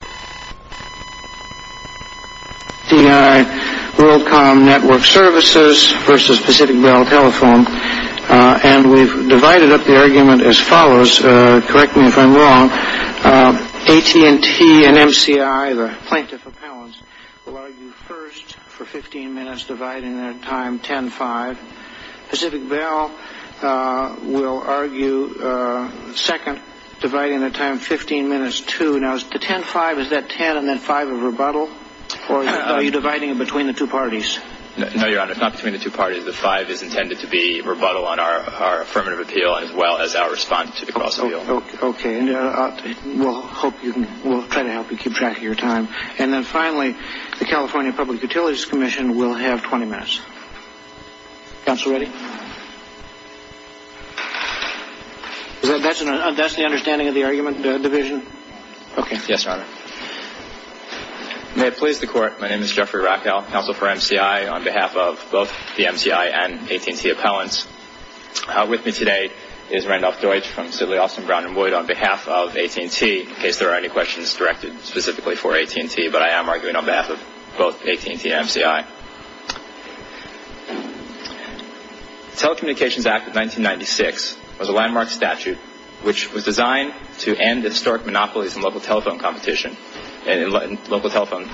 Pacific Bell Worldcom Network Services v. Pacific Bell Telephone and we've divided up the argument as follows, correct me if I'm wrong, AT&T and MCI, the plaintiff appellants, will argue first for 15 minutes, dividing their time 10-5. Pacific Bell will argue second, dividing their time 15 minutes, 2. Now is the 10-5, is that 10 and then 5 of rebuttal? Or are you dividing between the two parties? No, Your Honor, it's not between the two parties. The 5 is intended to be rebuttal on our affirmative appeal as well as our response to the cause of the appeal. Okay, we'll try to help you keep track of your time. And then finally, the California Public Utilities Commission will have 20 minutes. Counsel ready? That's the understanding of the argument division? Okay. Yes, Your Honor. May it please the Court, my name is Jeffrey Raphael, counsel for MCI on behalf of both the MCI and AT&T appellants. With me today is Randolph Deutsch from the Civil Law Office in Brown and Wood on behalf of AT&T, in case there are any questions directed specifically for AT&T, but I am arguing on behalf of both AT&T and MCI. The Telecommunications Act of 1996 was a landmark statute, which was designed to end historic monopolies in local telephone competition and local telephone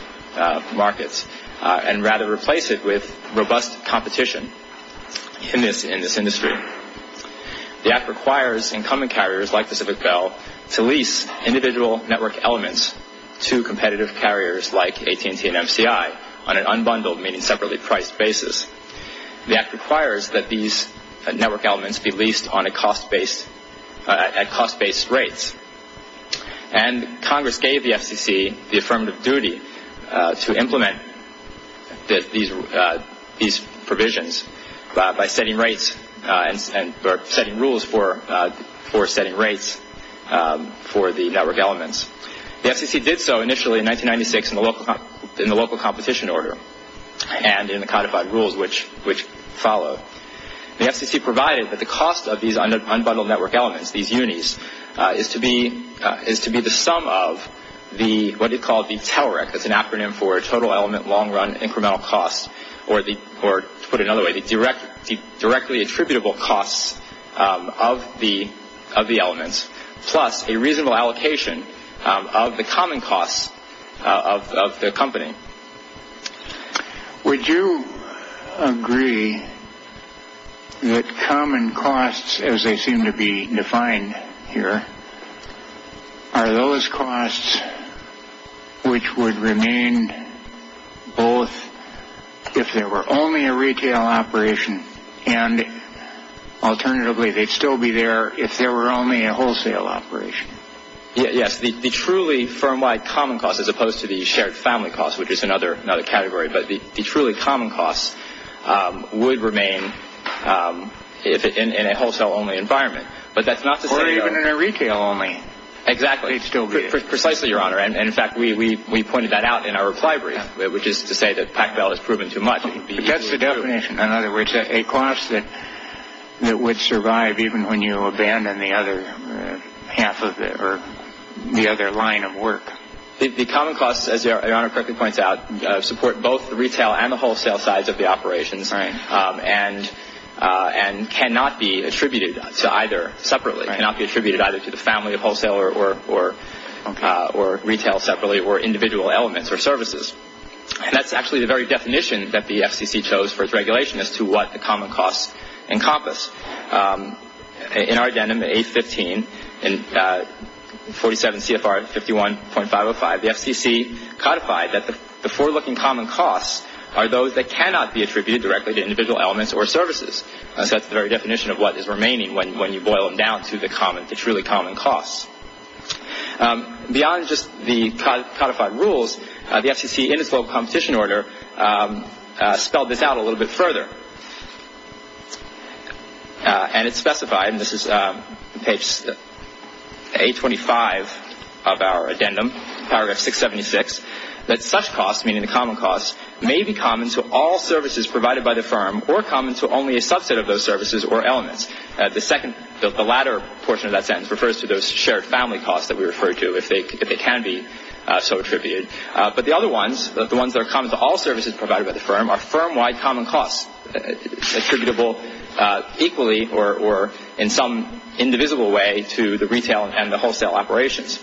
markets and rather replace it with robust competition in this industry. The act requires incumbent carriers like Pacific Bell to lease individual network elements to competitive carriers like AT&T and MCI on an unbundled, meaning separately priced basis. The act requires that these network elements be leased at cost-based rates. And Congress gave the FCC the affirmative duty to implement these provisions by setting rates or setting rules for setting rates for the network elements. The FCC did so initially in 1996 in the local competition order and in the codified rules which follow. The FCC provided that the cost of these unbundled network elements, these unis, is to be the sum of what is called the TALREC, that's an acronym for Total Element Long Run Incremental Cost, or to put it another way, the directly attributable costs of the elements, plus a reasonable allocation of the common costs of the company. Would you agree that common costs, as they seem to be defined here, are those costs which would remain both if there were only a retail operation and alternatively they'd still be there if there were only a wholesale operation? Yes, the truly firm-wide common costs as opposed to the shared family costs, which is another category, but the truly common costs would remain in a wholesale only environment. Or even in a retail only. Exactly. Precisely, Your Honor. In fact, we pointed that out in our requirements, which is to say that PACFIL has proven too much. So that's the definition, in other words, a cost that would survive even when you abandon the other half of it or the other line of work. The common costs, as Your Honor correctly points out, support both the retail and the wholesale sides of the operations and cannot be attributed to either separately. It cannot be attributed either to the family of wholesale or retail separately or individual elements or services. And that's actually the very definition that the FCC chose for its regulation as to what the common costs encompass. In our agenda, in A15, 47 CFR 51.505, the FCC codified that the forelooking common costs are those that cannot be attributed directly to individual elements or services. That's the very definition of what is remaining when you boil them down to the truly common costs. Beyond just the codified rules, the FCC in its full competition order spelled this out a little bit further. And it specified, and this is page 825 of our addendum, paragraph 676, that such costs, meaning the common costs, may be common to all services provided by the firm or common to only a subset of those services or elements. The latter portion of that sentence refers to those shared family costs that we referred to, if they can be so attributed. But the other ones, the ones that are common to all services provided by the firm, are firm-wide common costs attributable equally or in some indivisible way to the retail and the wholesale operations.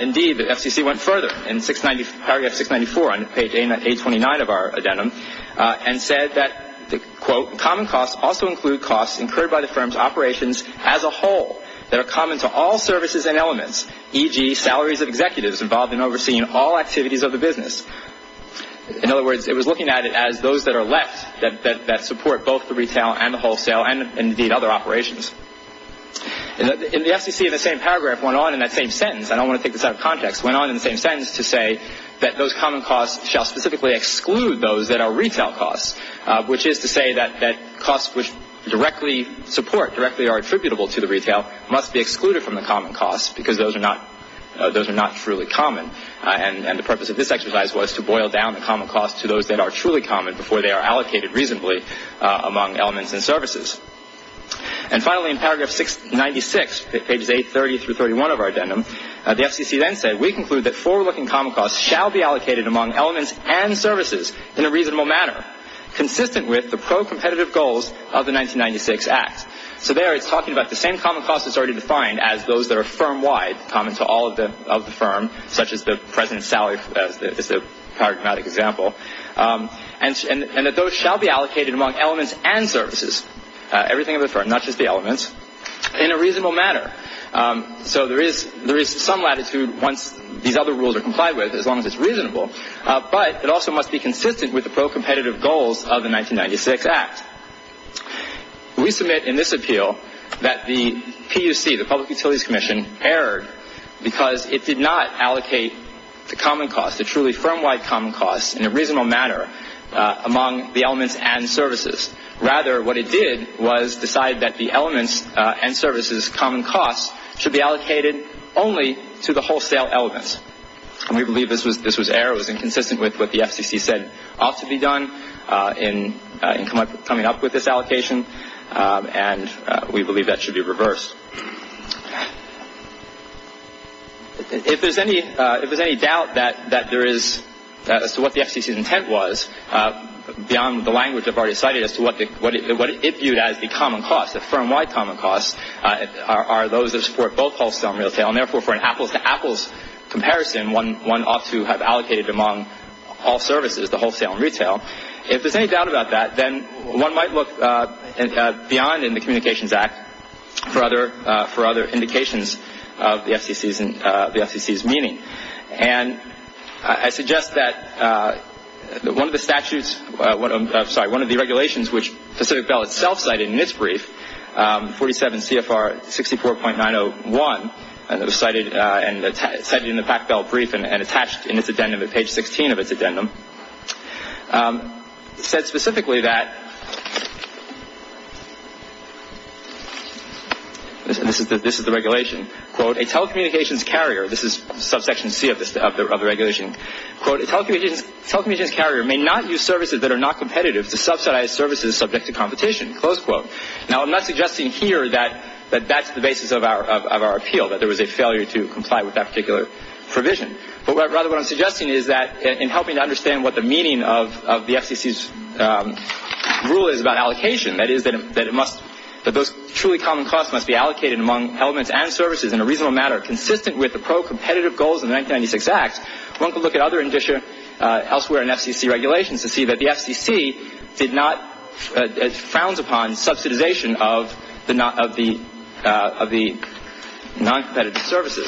Indeed, the FCC went further in paragraph 694 on page 829 of our addendum and said that, quote, common costs also include costs incurred by the firm's operations as a whole that are common to all services and elements, e.g. salaries of executives involved in overseeing all activities of the business. In other words, it was looking at it as those that are less, that support both the retail and the wholesale and, indeed, other operations. In the FCC, the same paragraph went on in that same sentence. I don't want to take this out of context. It went on in the same sentence to say that those common costs shall specifically exclude those that are retail costs, which is to say that costs which directly support, directly are attributable to the retail, must be excluded from the common costs because those are not truly common. And the purpose of this exercise was to boil down the common costs to those that are truly common before they are allocated reasonably among elements and services. And finally, in paragraph 696, pages 830 through 831 of our addendum, the FCC then said, we conclude that forward-looking common costs shall be allocated among elements and services in a reasonable manner, consistent with the pro-competitive goals of the 1996 Act. So there it's talking about the same common costs that's already defined as those that are firm-wide, common to all of the firm, such as the president's salary, the paradigmatic example. And that those shall be allocated among elements and services, everything of the firm, not just the elements, in a reasonable manner. So there is some latitude once these other rules are complied with, as long as it's reasonable. But it also must be consistent with the pro-competitive goals of the 1996 Act. We submit in this appeal that the TUC, the Public Utilities Commission, erred because it did not allocate the common costs, the truly firm-wide common costs, in a reasonable manner among the elements and services. Rather, what it did was decide that the elements and services' common costs should be allocated only to the wholesale elements. And we believe this was error. It was inconsistent with what the FCC said ought to be done in coming up with this allocation. And we believe that should be reversed. If there's any doubt as to what the FCC's intent was, beyond the language I've already cited as to what it viewed as the common costs, the firm-wide common costs, are those that support both wholesale and retail, and therefore for an apples-to-apples comparison, one ought to have allocated among all services the wholesale and retail. If there's any doubt about that, then one might look beyond in the Communications Act for other indications of the FCC's meaning. And I suggest that one of the statutes, I'm sorry, one of the regulations which Pacific Bell itself cited in this brief, 47 CFR 64.901, and it was cited in the PacBell brief and attached in its addendum at page 16 of its addendum, said specifically that, this is the regulation, quote, a telecommunications carrier, this is subsection C of the regulation, quote, a telecommunications carrier may not use services that are not competitive to subsidize services subject to competition, close quote. Now I'm not suggesting here that that's the basis of our appeal, that there was a failure to comply with that particular provision, but rather what I'm suggesting is that in helping to understand what the meaning of the FCC's rule is about allocation, that is that it must, that those truly common costs must be allocated among elements and services in a reasonable manner consistent with the pro-competitive goals of the 1996 Act, one could look at other elsewhere in FCC regulations and see that the FCC did not, frowned upon subsidization of the non-competitive services.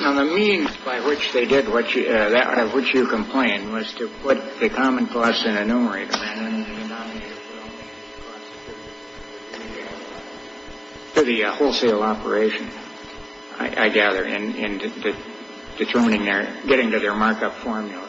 Now the means by which they did what you, or which you complained was to put the common costs in enumerators. For the wholesale operation. I gather. And determining their, getting to their markup formula.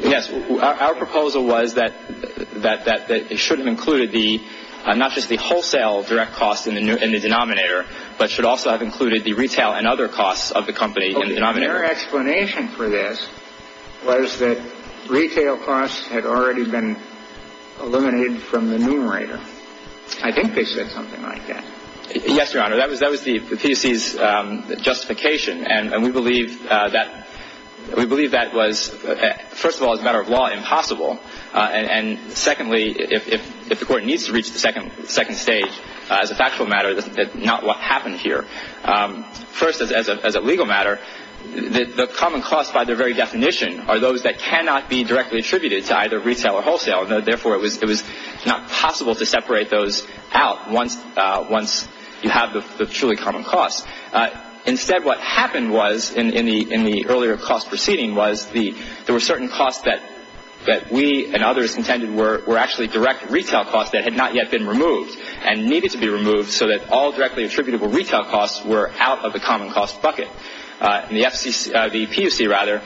Yes. Our proposal was that it shouldn't include the, not just the wholesale direct costs in the denominator, but should also have included the retail and other costs of the company in the denominator. Their explanation for this was that retail costs had already been eliminated from the numerator. I think they said something like that. Yes, Your Honor. That was the FCC's justification. And we believe that was, first of all, as a matter of law, impossible. And secondly, if the court needs to reach the second stage, as a factual matter, that's not what happened here. First, as a legal matter, the common costs, by their very definition, are those that cannot be directly attributed to either retail or wholesale. Therefore, it was not possible to separate those out once you have the truly common costs. Instead, what happened was, in the earlier cost proceeding, was there were certain costs that we and others intended were actually direct retail costs that had not yet been removed and needed to be removed so that all directly attributable retail costs were out of the common cost bucket. And the PUC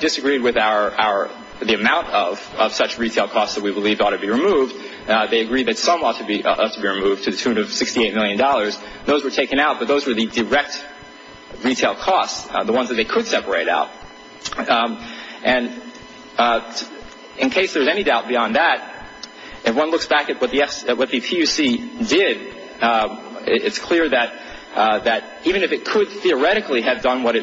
disagreed with the amount of such retail costs that we believe ought to be removed. They agreed that some ought to be removed to the tune of $68 million. Those were taken out, but those were the direct retail costs, the ones that they could separate out. And in case there's any doubt beyond that, if one looks back at what the PUC did, it's clear that even if it could theoretically have done what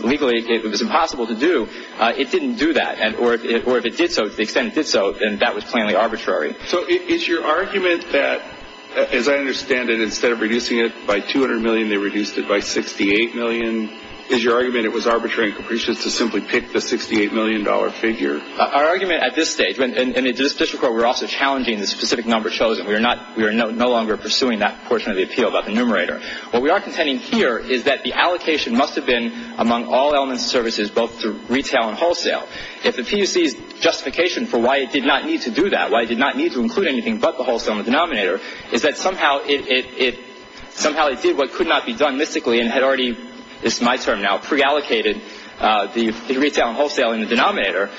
legally it was impossible to do, it didn't do that. Or if it did so, to the extent it did so, then that was plainly arbitrary. So is your argument that, as I understand it, instead of reducing it by $200 million, they reduced it by $68 million? Is your argument it was arbitrary and capricious to simply pick the $68 million figure? Our argument at this stage, and in this district where we're also challenging the specific number chosen, we are no longer pursuing that portion of the appeal about the numerator. What we are contending here is that the allocation must have been among all elements of services, both through retail and wholesale. Yet the PUC's justification for why it did not need to do that, why it did not need to include anything but the wholesale and the denominator, is that somehow it did what could not be done mystically and had already, it's my term now, pre-allocated the retail and wholesale in the denominator.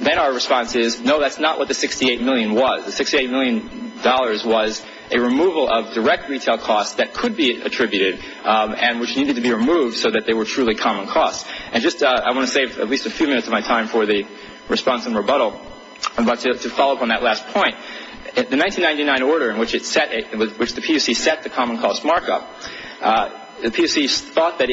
Then our response is, no, that's not what the $68 million was. The $68 million was a removal of direct retail costs that could be attributed and which needed to be removed so that they were truly common costs. I want to save at least a few minutes of my time for the response and rebuttal. I'm going to follow up on that last point. The 1999 order in which the PUC set the common cost markup, the PUC thought that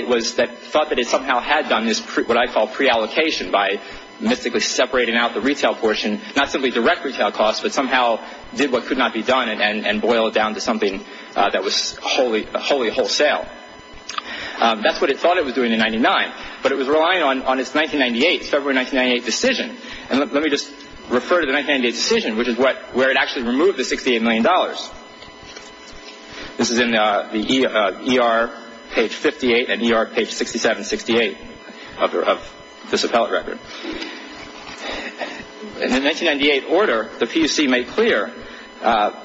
it somehow had done what I call pre-allocation by mystically separating out the retail portion, not simply direct retail costs, but somehow did what could not be done and boiled down to something that was wholly wholesale. That's what it thought it was doing in 1999, but it was relying on its February 1998 decision. Let me just refer to the 1998 decision, which is where it actually removed the $68 million. This is in the ER page 58 and ER page 67-68 of this appellate record. In the 1998 order, the PUC made clear that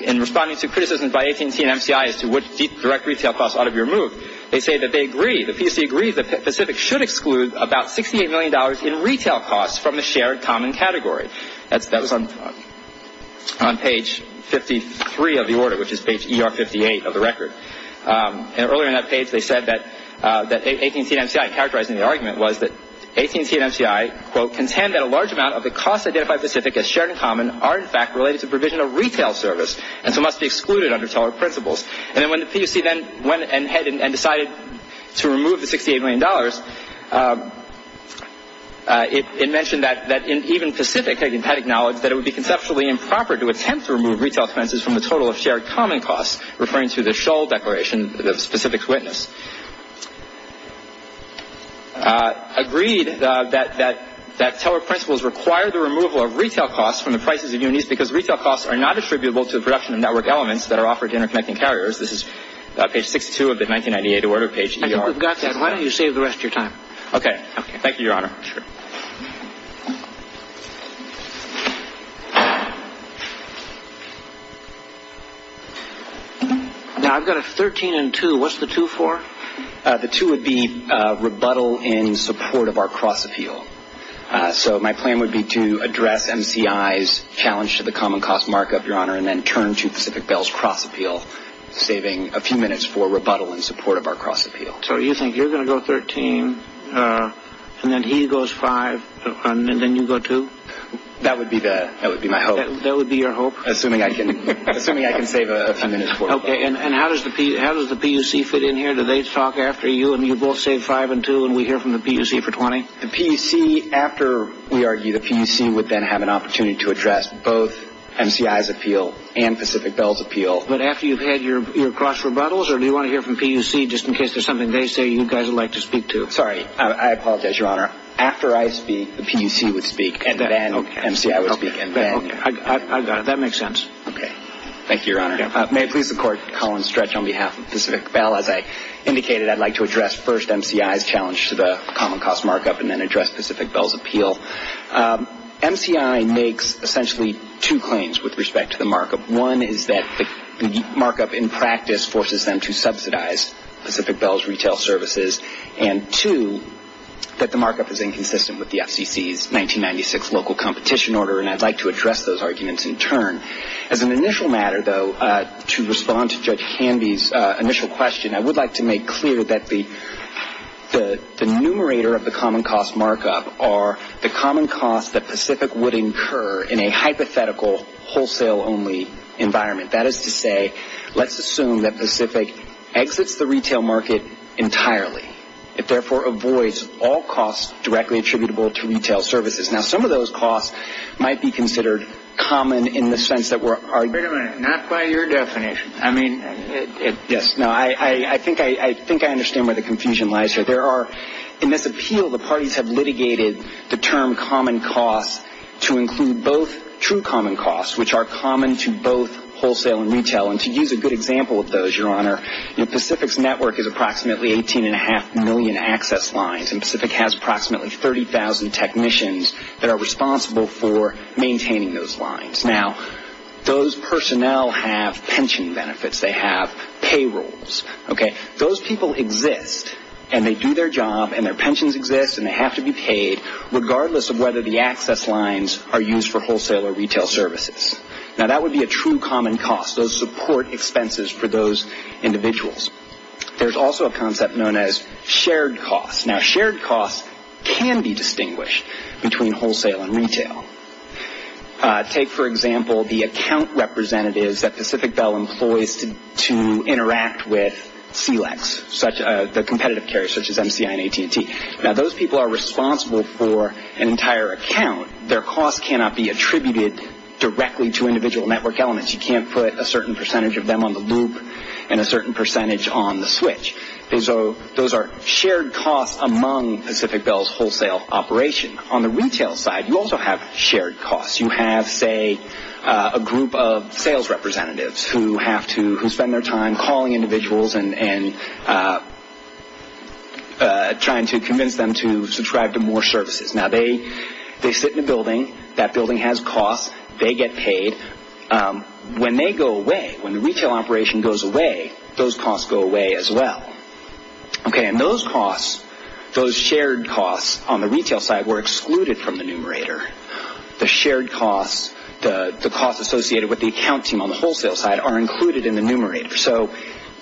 in responding to criticism by AT&T and MCI as to which direct retail costs ought to be removed, they say that they agree, the Pacific should exclude about $68 million in retail costs from the shared common category. That was on page 53 of the order, which is page ER 58 of the record. Earlier in that page, they said that AT&T and MCI, characterizing the argument, was that AT&T and MCI, quote, contend that a large amount of the costs identified by Pacific as shared and common are in fact related to provision of retail service and so must be excluded under seller principles. And when the PUC then went ahead and decided to remove the $68 million, it mentioned that even Pacific had acknowledged that it would be conceptually improper to attempt to remove retail expenses from the total of shared common costs, referring to the Shull Declaration, the Pacific's witness. Agreed that seller principles require the removal of retail costs from the prices of units because retail costs are not attributable to the production of network elements that are offered to interconnecting carriers. This is page 62 of the 1998 order, page ER. I think we've got that. Why don't you save the rest of your time? Okay. Thank you, Your Honor. Now, I've got a 13 and 2. What's the 2 for? The 2 would be rebuttal in support of our cross-appeal. So my plan would be to address MCI's challenge to the common cost markup, Your Honor, and then turn to Pacific Bell's cross-appeal, saving a few minutes for rebuttal in support of our cross-appeal. So you think you're going to go 13 and then he goes 5 and then you go 2? That would be my hope. That would be your hope? Assuming I can save a few minutes for it. Okay. And how does the PUC fit in here? Do they talk after you and you both say 5 and 2 and we hear from the PUC for 20? The PUC, after we argue, the PUC would then have an opportunity to address both MCI's appeal and Pacific Bell's appeal. But after you've had your cross-rebuttals, or do you want to hear from the PUC just in case there's something they say you guys would like to speak to? Sorry. I apologize, Your Honor. After I speak, the PUC would speak and then MCI would speak. I got it. That makes sense. Okay. Thank you, Your Honor. May it please the Court, Colin Stretch on behalf of Pacific Bell, as I indicated, I'd like to address first MCI's challenge to the common cost markup and then address Pacific Bell's appeal. MCI makes essentially two claims with respect to the markup. One is that the markup in practice forces them to subsidize Pacific Bell's retail services, and two, that the markup is inconsistent with the FCC's 1996 local competition order, and I'd like to address those arguments in turn. As an initial matter, though, to respond to Judge Candy's initial question, I would like to make clear that the numerator of the common cost markup are the common costs that Pacific would incur in a hypothetical wholesale-only environment. That is to say, let's assume that Pacific exits the retail market entirely. It therefore avoids all costs directly attributable to retail services. Now, some of those costs might be considered common in the sense that we're Wait a minute. Not by your definition. I mean Yes. No, I think I understand where the confusion lies here. There are, in this appeal, the parties have litigated the term common cost to include both true common costs, which are common to both wholesale and retail, and to use a good example of those, Your Honor, Pacific's network is approximately 18.5 million access lines, and Pacific has approximately 30,000 technicians that are responsible for maintaining those lines. Now, those personnel have pension benefits. They have payrolls. Those people exist, and they do their job, and their pensions exist, and they have to be paid, regardless of whether the access lines are used for wholesale or retail services. Now, that would be a true common cost. Those support expenses for those individuals. There's also a concept known as shared costs. Now, shared costs can be distinguished between wholesale and retail. Take, for example, the account representatives that Pacific Bell employs to interact with CLEX, the competitive carriers such as MCI and AT&T. Now, those people are responsible for an entire account. Their cost cannot be attributed directly to individual network elements. You can't put a certain percentage of them on the loop and a certain percentage on the switch. Those are shared costs among Pacific Bell's wholesale operation. On the retail side, you also have shared costs. You have, say, a group of sales representatives who spend their time calling individuals and trying to convince them to subscribe to more services. Now, they sit in a building. That building has costs. They get paid. When they go away, when the retail operation goes away, those costs go away as well. And those costs, those shared costs on the retail side, were excluded from the numerator. The shared costs, the costs associated with the account team on the wholesale side, are included in the numerator. So,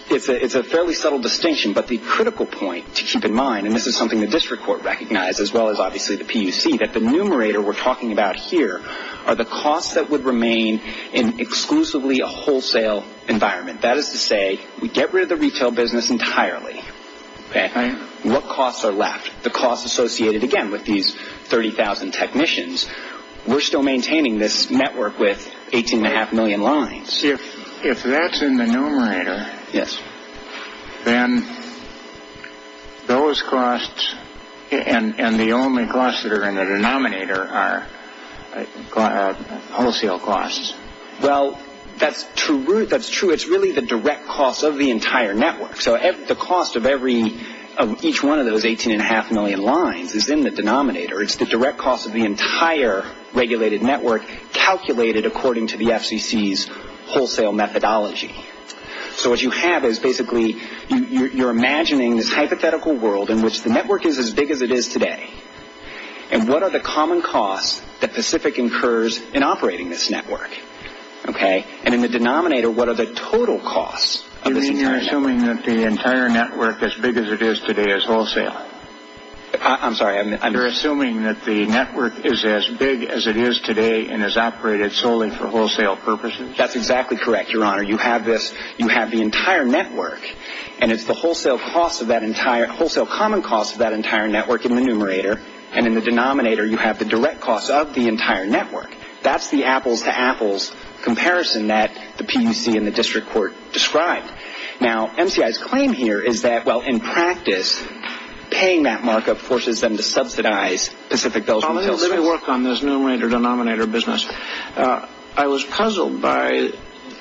it's a fairly subtle distinction, but the critical point to keep in mind, and this is something the district court recognized as well as, obviously, the PUC, is to see that the numerator we're talking about here are the costs that would remain in exclusively a wholesale environment. That is to say, we get rid of the retail business entirely. What costs are left? The costs associated, again, with these 30,000 technicians. We're still maintaining this network with 18.5 million lines. If that's in the numerator, then those costs and the only costs that are in the denominator are wholesale costs. Well, that's true. It's really the direct costs of the entire network. So, the cost of each one of those 18.5 million lines is in the denominator. It's the direct cost of the entire regulated network calculated according to the FCC's wholesale methodology. So, what you have is basically you're imagining this hypothetical world in which the network is as big as it is today, and what are the common costs that Pacific incurs in operating this network? And in the denominator, what are the total costs? You mean you're assuming that the entire network, as big as it is today, is wholesale? I'm sorry. You're assuming that the network is as big as it is today and is operated solely for wholesale purposes? That's exactly correct, Your Honor. You have the entire network, and it's the wholesale common costs of that entire network in the numerator, and in the denominator, you have the direct costs of the entire network. That's the apples-to-apples comparison that the PUC and the district court describe. Now, MCI's claim here is that, well, in practice, paying that markup forces them to subsidize Pacific Delta. Let me work on this numerator-denominator business. I was puzzled by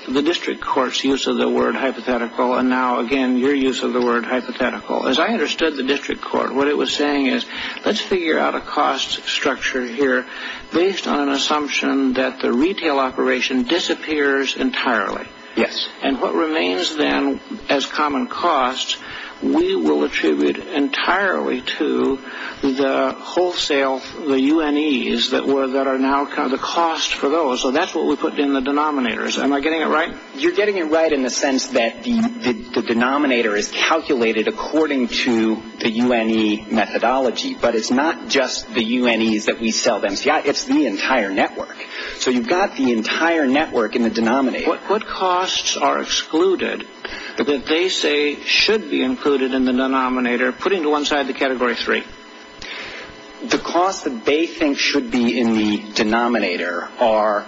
the district court's use of the word hypothetical, and now, again, your use of the word hypothetical. As I understood the district court, what it was saying is, let's figure out a cost structure here based on an assumption that the retail operation disappears entirely. Yes. And what remains, then, as common costs, we will attribute entirely to the wholesale, the UNEs, that are now kind of the cost for those, and that's what we put in the denominators. Am I getting it right? You're getting it right in the sense that the denominator is calculated according to the UNE methodology, but it's not just the UNEs that we sell to MCI. It's the entire network. So you've got the entire network in the denominator. What costs are excluded that they say should be included in the denominator, putting to one side the Category 3? The costs that they think should be in the denominator are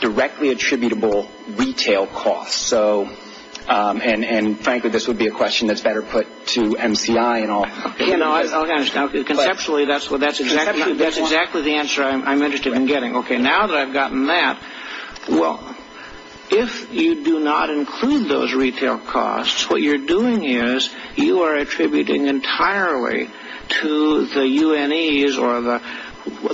directly attributable retail costs. And, frankly, this would be a question that's better put to MCI and all. I understand. Conceptually, that's exactly the answer I'm interested in getting. Okay, now that I've gotten that, well, if you do not include those retail costs, what you're doing is you are attributing entirely to the UNEs, or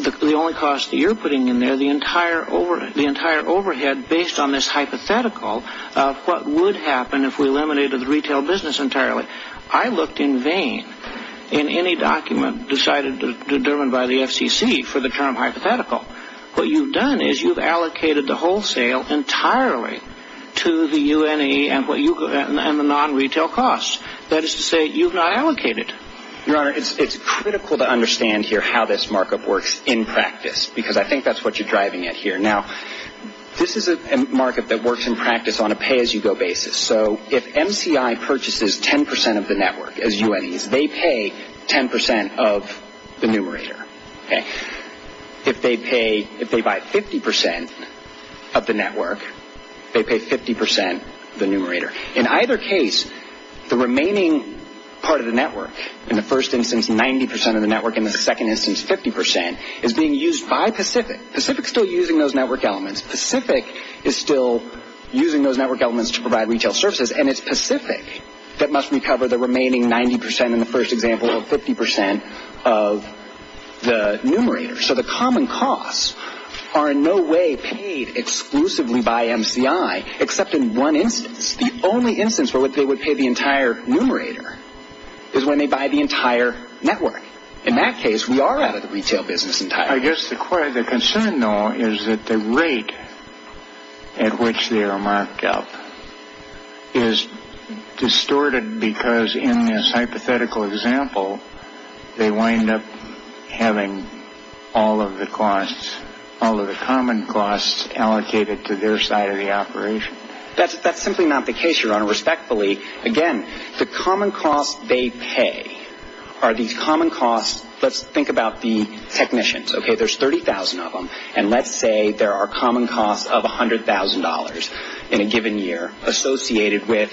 the only cost that you're putting in there, the entire overhead based on this hypothetical of what would happen if we eliminated the retail business entirely. I looked in vain in any document decided to determine by the FCC for the term hypothetical. What you've done is you've allocated the wholesale entirely to the UNE and the non-retail costs. That is to say you've not allocated. It's critical to understand here how this market works in practice because I think that's what you're driving at here. Now, this is a market that works in practice on a pay-as-you-go basis. So, if MCI purchases 10% of the network as UNEs, they pay 10% of the numerator. If they buy 50% of the network, they pay 50% the numerator. In either case, the remaining part of the network, in the first instance 90% of the network, in the second instance 50%, is being used by Pacific. Pacific is still using those network elements. Pacific is still using those network elements to provide retail services, and it's Pacific that must recover the remaining 90% in the first example of 50% of the numerator. So, the common costs are in no way paid exclusively by MCI except in one instance. The only instance where they would pay the entire numerator is when they buy the entire network. In that case, we are out of the retail business entirely. I guess the concern, though, is that the rate at which they are marked up is distorted because in this hypothetical example, they wind up having all of the costs, all of the common costs allocated to their side of the operation. That's simply not the case, your honor. Respectfully, again, the common costs they pay are these common costs. Let's think about the technicians. Okay, there's 30,000 of them, and let's say there are common costs of $100,000 in a given year associated with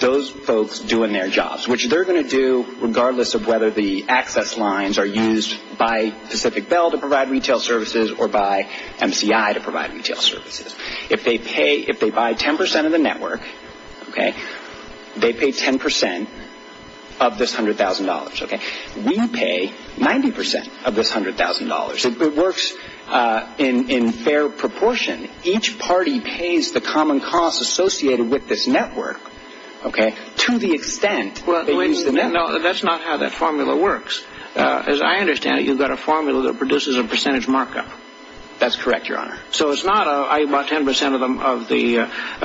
those folks doing their jobs, which they're going to do regardless of whether the access lines are used by Pacific Bell to provide retail services or by MCI to provide retail services. If they buy 10% of the network, they pay 10% of this $100,000. We pay 90% of this $100,000. It works in fair proportion. Each party pays the common costs associated with this network to the extent that they use the network. No, that's not how that formula works. As I understand it, you've got a formula that produces a percentage markup. That's correct, your honor. So it's not I buy 10% of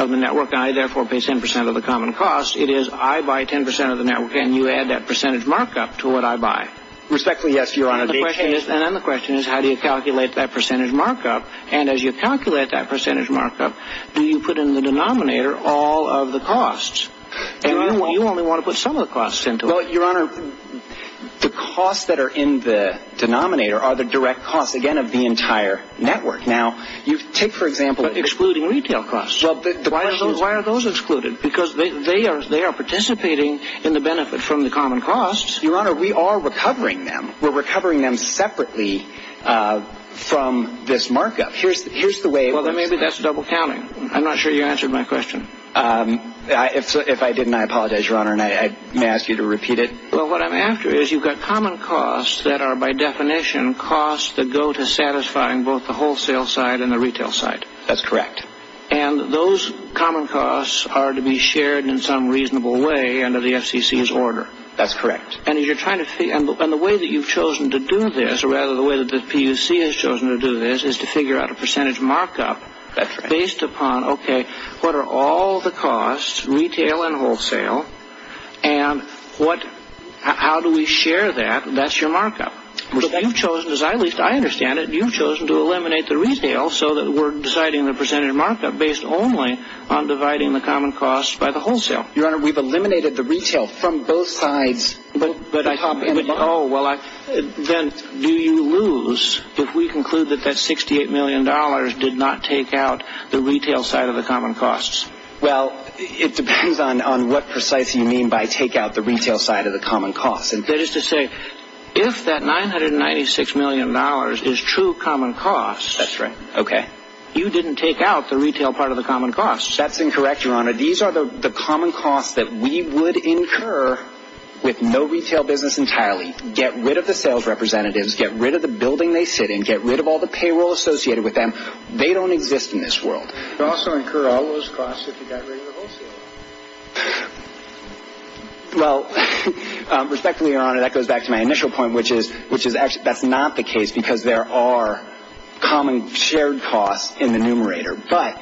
the network, and I therefore pay 10% of the common costs. It is I buy 10% of the network, and you add that percentage markup to what I buy. Respectfully, yes, your honor. And then the question is how do you calculate that percentage markup, and as you calculate that percentage markup, do you put in the denominator all of the costs? You only want to put some of the costs into it. Your honor, the costs that are in the denominator are the direct costs, again, of the entire network. Now, you take, for example, excluding retail costs. Why are those excluded? Because they are participating in the benefit from the common costs. Your honor, we are recovering them. We're recovering them separately from this markup. Here's the way. Well, maybe that's double-counting. I'm not sure you answered my question. If I didn't, I apologize, your honor, and I may ask you to repeat it. Well, what I'm after is you've got common costs that are, by definition, costs that go to satisfying both the wholesale side and the retail side. That's correct. And those common costs are to be shared in some reasonable way under the FCC's order. That's correct. And the way that you've chosen to do this, or rather the way that the PUC has chosen to do this, is to figure out a percentage markup based upon, okay, what are all the costs, retail and wholesale, and how do we share that? That's your markup. You've chosen, as I understand it, you've chosen to eliminate the retail so that we're deciding the percentage markup based only on dividing the common costs by the wholesale. Your honor, we've eliminated the retail from both sides. Oh, well, then do you lose if we conclude that that $68 million did not take out the retail side of the common costs? Well, it depends on what precisely you mean by take out the retail side of the common costs. That is to say, if that $996 million is true common costs, That's right. Okay. You didn't take out the retail part of the common costs. That's incorrect, your honor. These are the common costs that we would incur with no retail business entirely. Get rid of the sales representatives. Get rid of the building they sit in. Get rid of all the payroll associated with them. They don't exist in this world. But also incur all those costs if you got rid of the wholesale. Well, respectfully, your honor, that goes back to my initial point, which is actually that's not the case because there are common shared costs in the numerator. But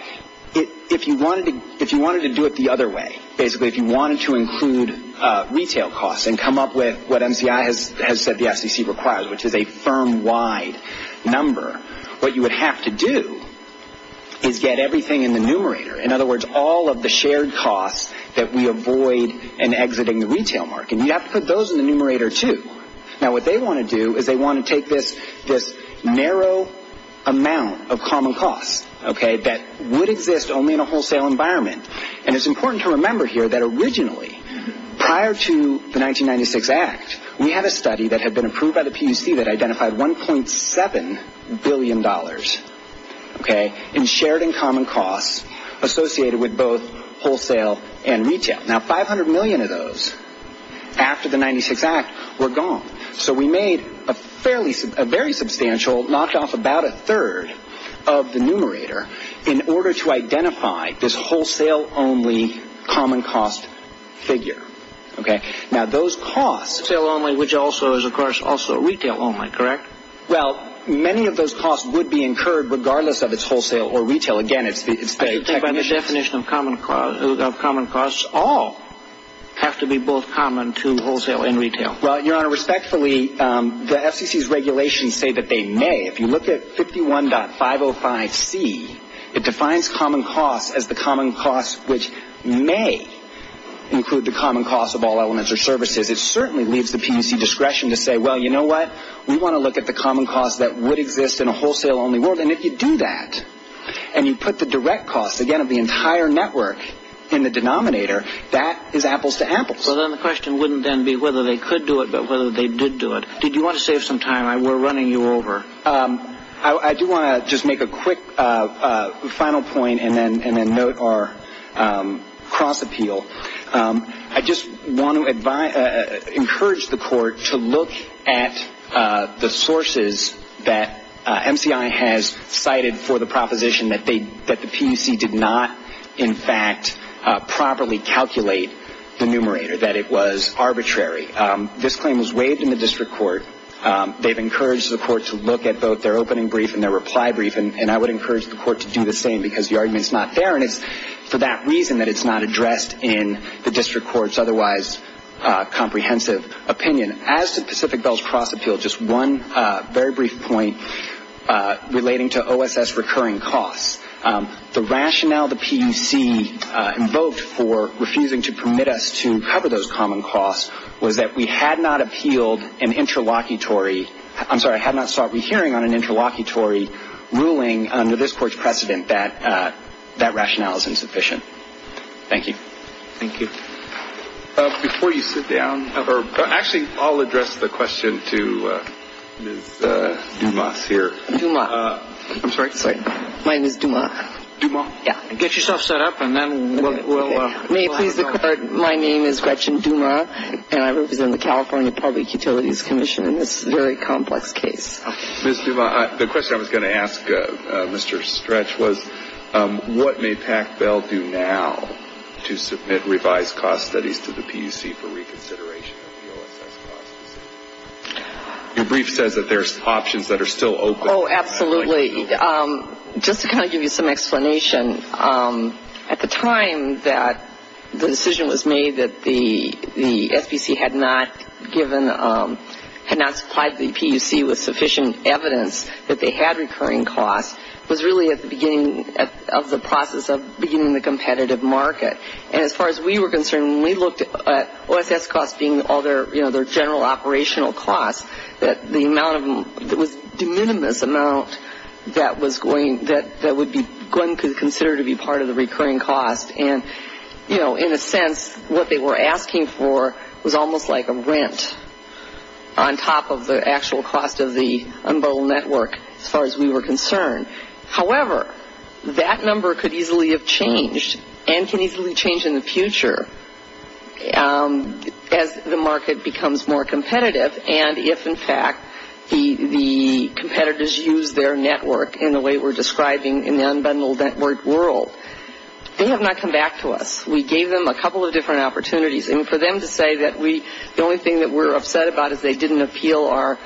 if you wanted to do it the other way, basically, if you wanted to include retail costs and come up with what MCI has said the FCC requires, which is a firm wide number, what you would have to do is get everything in the numerator. In other words, all of the shared costs that we avoid in exiting the retail market, you have to put those in the numerator too. Now, what they want to do is they want to take this narrow amount of common costs, okay, that would exist only in a wholesale environment. And it's important to remember here that originally, prior to the 1996 Act, we had a study that had been approved by the PUC that identified $1.7 billion, okay, in shared and common costs associated with both wholesale and retail. Now, $500 million of those, after the 1996 Act, were gone. So we made a very substantial notch off about a third of the numerator in order to identify this wholesale only common cost figure, okay. Now, those costs... Wholesale only, which also is, of course, also retail only, correct? Well, many of those costs would be incurred regardless of its wholesale or retail. By definition of common costs, all have to be both common to wholesale and retail. Well, Your Honor, respectfully, the FCC's regulations say that they may. If you look at 51.505C, it defines common costs as the common costs which may include the common costs of all elements or services. It certainly leaves the PUC discretion to say, well, you know what, we want to look at the common costs that would exist in a wholesale only world. And if you do that and you put the direct cost, again, of the entire network in the denominator, that is apples to apples. So then the question wouldn't then be whether they could do it but whether they did do it. Did you want to save some time? We're running you over. I do want to just make a quick final point and then note our cross-appeal. I just want to encourage the court to look at the sources that MCI has cited for the proposition that the PUC did not, in fact, properly calculate the numerator, that it was arbitrary. This claim was waived in the district court. They've encouraged the court to look at both their opening brief and their reply brief, and I would encourage the court to do the same because the argument is not there. And it's for that reason that it's not addressed in the district court's otherwise comprehensive opinion. As to Pacific Bell's cross-appeal, just one very brief point relating to OSS recurring costs. The rationale the PUC invoked for refusing to permit us to cover those common costs was that we had not appealed an interlocutory, I'm sorry, Thank you. Thank you. Before you sit down, or actually I'll address the question to Ms. Dumas here. Dumas. I'm sorry? My name is Dumas. Dumas? Yeah. Get yourself set up and then we'll. My name is Gretchen Dumas, and I work in the California Public Utilities Commission. It's a very complex case. Ms. Dumas, the question I was going to ask Mr. Stretch was, what may PACBEL do now to submit revised cost studies to the PUC for reconsideration? Your brief said that there's options that are still open. Oh, absolutely. Just to kind of give you some explanation, at the time that the decision was made that the SEC had not given, had not supplied the PUC with sufficient evidence that they had recurring costs, was really at the beginning of the process of beginning the competitive market. And as far as we were concerned, we looked at OSS costs being all their general operational costs, that the minimum amount that was going to be considered to be part of the recurring cost. And, you know, in a sense, what they were asking for was almost like a rent on top of the actual cost of the unrolled network, as far as we were concerned. However, that number could easily have changed and can easily change in the future as the market becomes more competitive. And if, in fact, the competitors use their network in the way we're describing in the unbundled network world, they have not come back to us. We gave them a couple of different opportunities. And for them to say that the only thing that we're upset about is they didn't appeal our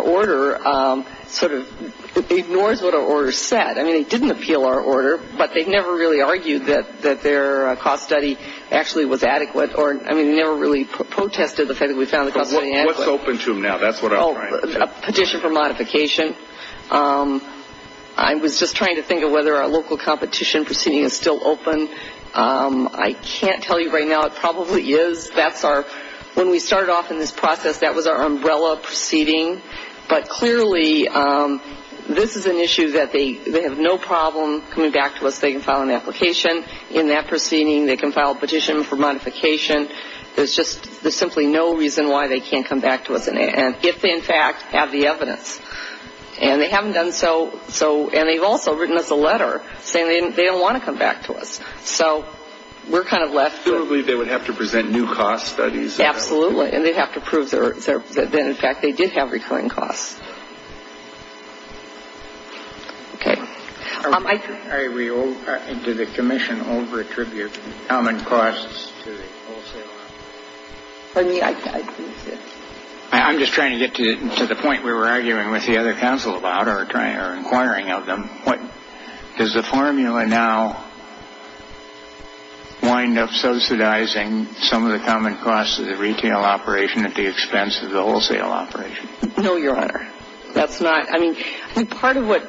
order, sort of ignores what our order said. I mean, they didn't appeal our order, but they never really argued that their cost study actually was adequate, or, I mean, never really protested the fact that we found the cost to be adequate. What's open to them now? That's what I was trying to say. Oh, a petition for modification. I was just trying to think of whether our local competition proceeding is still open. I can't tell you right now. It probably is that far. When we started off in this process, that was our umbrella proceeding. But, clearly, this is an issue that they have no problem coming back to us. They can file an application in that proceeding. They can file a petition for modification. There's just simply no reason why they can't come back to us, if they, in fact, have the evidence. And they haven't done so. And they've also written us a letter saying they don't want to come back to us. So we're kind of left. Probably they would have to present new cost studies. Absolutely. And they'd have to prove that, in fact, they did have recurring costs. Okay. Are we to the commission over-attribute common costs to the wholesale operation? I'm just trying to get to the point where we're arguing with the other council about or inquiring of them. Does the formula now wind up subsidizing some of the common costs of the retail operation at the expense of the wholesale operation? No, Your Honor. That's not. I mean, part of what